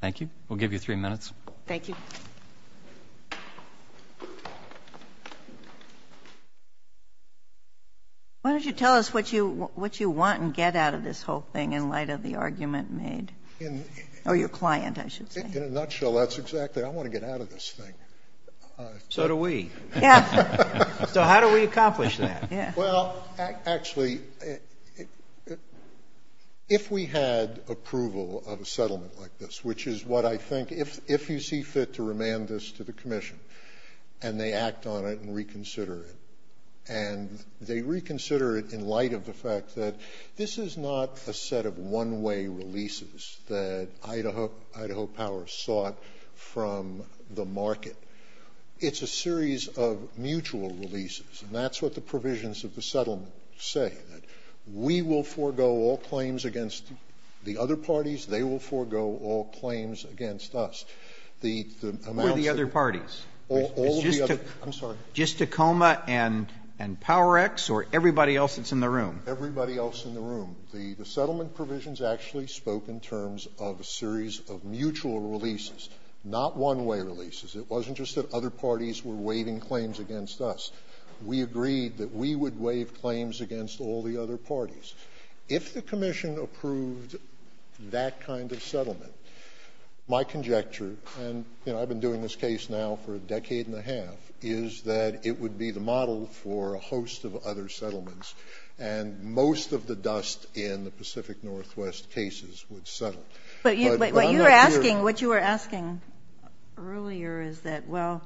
Thank you. We'll give you three minutes. Thank you. Why don't you tell us what you want and get out of this whole thing in light of the argument made? Or your client, I should say. In a nutshell, that's exactly – I want to get out of this thing. So do we. So how do we accomplish that? Well, actually, if we had approval of a settlement like this, which is what I think – if you see fit to remand this to the commission and they act on it and reconsider it, and they reconsider it in light of the fact that this is not a set of one-way releases that Idaho Power sought from the market. It's a series of mutual releases, and that's what the provisions of the settlement say. We will forego all claims against the other parties. They will forego all claims against us. All of the other parties. All of the other – I'm sorry. Just Tacoma and Power X or everybody else that's in the room? Everybody else in the room. The settlement provisions actually spoke in terms of a series of mutual releases, not one-way releases. It wasn't just that other parties were waiving claims against us. We agreed that we would waive claims against all the other parties. If the commission approved that kind of settlement, my conjecture – and I've been doing this case now for a decade and a half – is that it would be the model for a host of other settlements, and most of the dust in the Pacific Northwest cases would settle. But what you were asking earlier is that, well,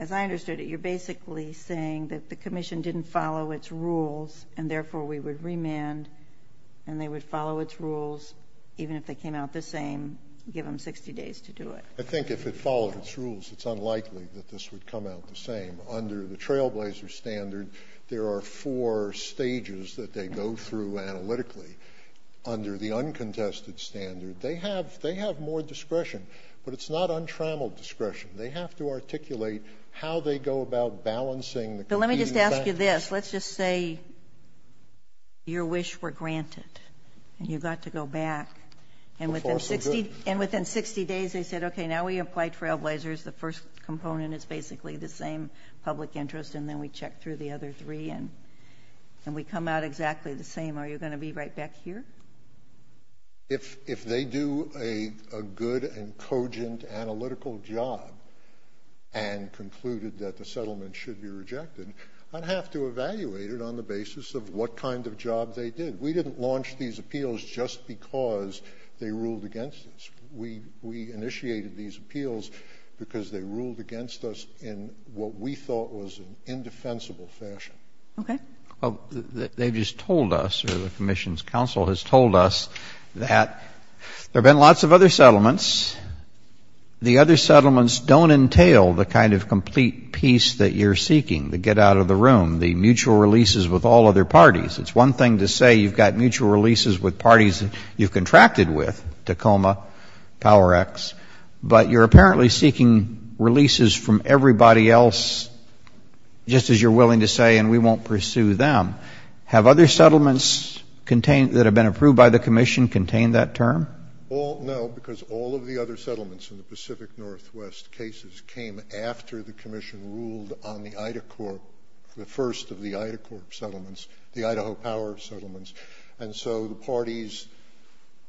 as I understood it, you're basically saying that the commission didn't follow its rules and therefore we would remand and they would follow its rules even if they came out the same given 60 days to do it. I think if it followed its rules, it's unlikely that this would come out the same. Under the Trailblazer standard, there are four stages that they go through analytically. Under the uncontested standard, they have more discretion, but it's not untrammeled discretion. They have to articulate how they go about balancing the – So let me just ask you this. Let's just say your wish were granted and you got to go back, and within 60 days they said, okay, now we applied Trailblazers. The first component is basically the same public interest, and then we checked through the other three and we come out exactly the same. Are you going to be right back here? If they do a good and cogent analytical job and concluded that the settlement should be rejected, I'd have to evaluate it on the basis of what kind of job they did. We didn't launch these appeals just because they ruled against us. We initiated these appeals because they ruled against us in what we thought was an indefensible fashion. Okay. They just told us, or the Commission's counsel has told us, that there have been lots of other settlements. The other settlements don't entail the kind of complete peace that you're seeking to get out of the room, the mutual releases with all other parties. It's one thing to say you've got mutual releases with parties you've contracted with, Tacoma, Power X, but you're apparently seeking releases from everybody else, just as you're willing to say, and we won't pursue them. Have other settlements that have been approved by the Commission contained that term? No, because all of the other settlements in the Pacific Northwest cases came after the Commission ruled on the Ida Corps, the first of the Ida Corps settlements, the Idaho Power settlements, and so the parties,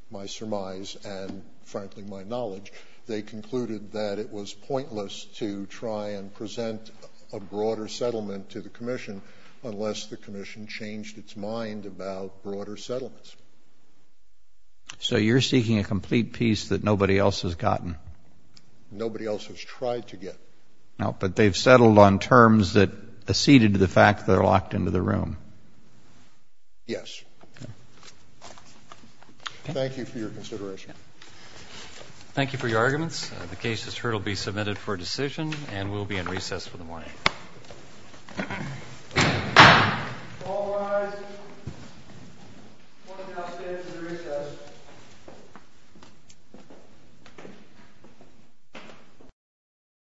my surmise and, frankly, my knowledge, they concluded that it was pointless to try and present a broader settlement to the Commission unless the Commission changed its mind about broader settlements. So you're seeking a complete peace that nobody else has gotten? Nobody else has tried to get. But they've settled on terms that acceded to the fact that they're locked into the room? Yes. Thank you for your consideration. Thank you for your arguments. The case is heard and will be submitted for decision, and we'll be in recess for the morning. All rise. We'll be in recess.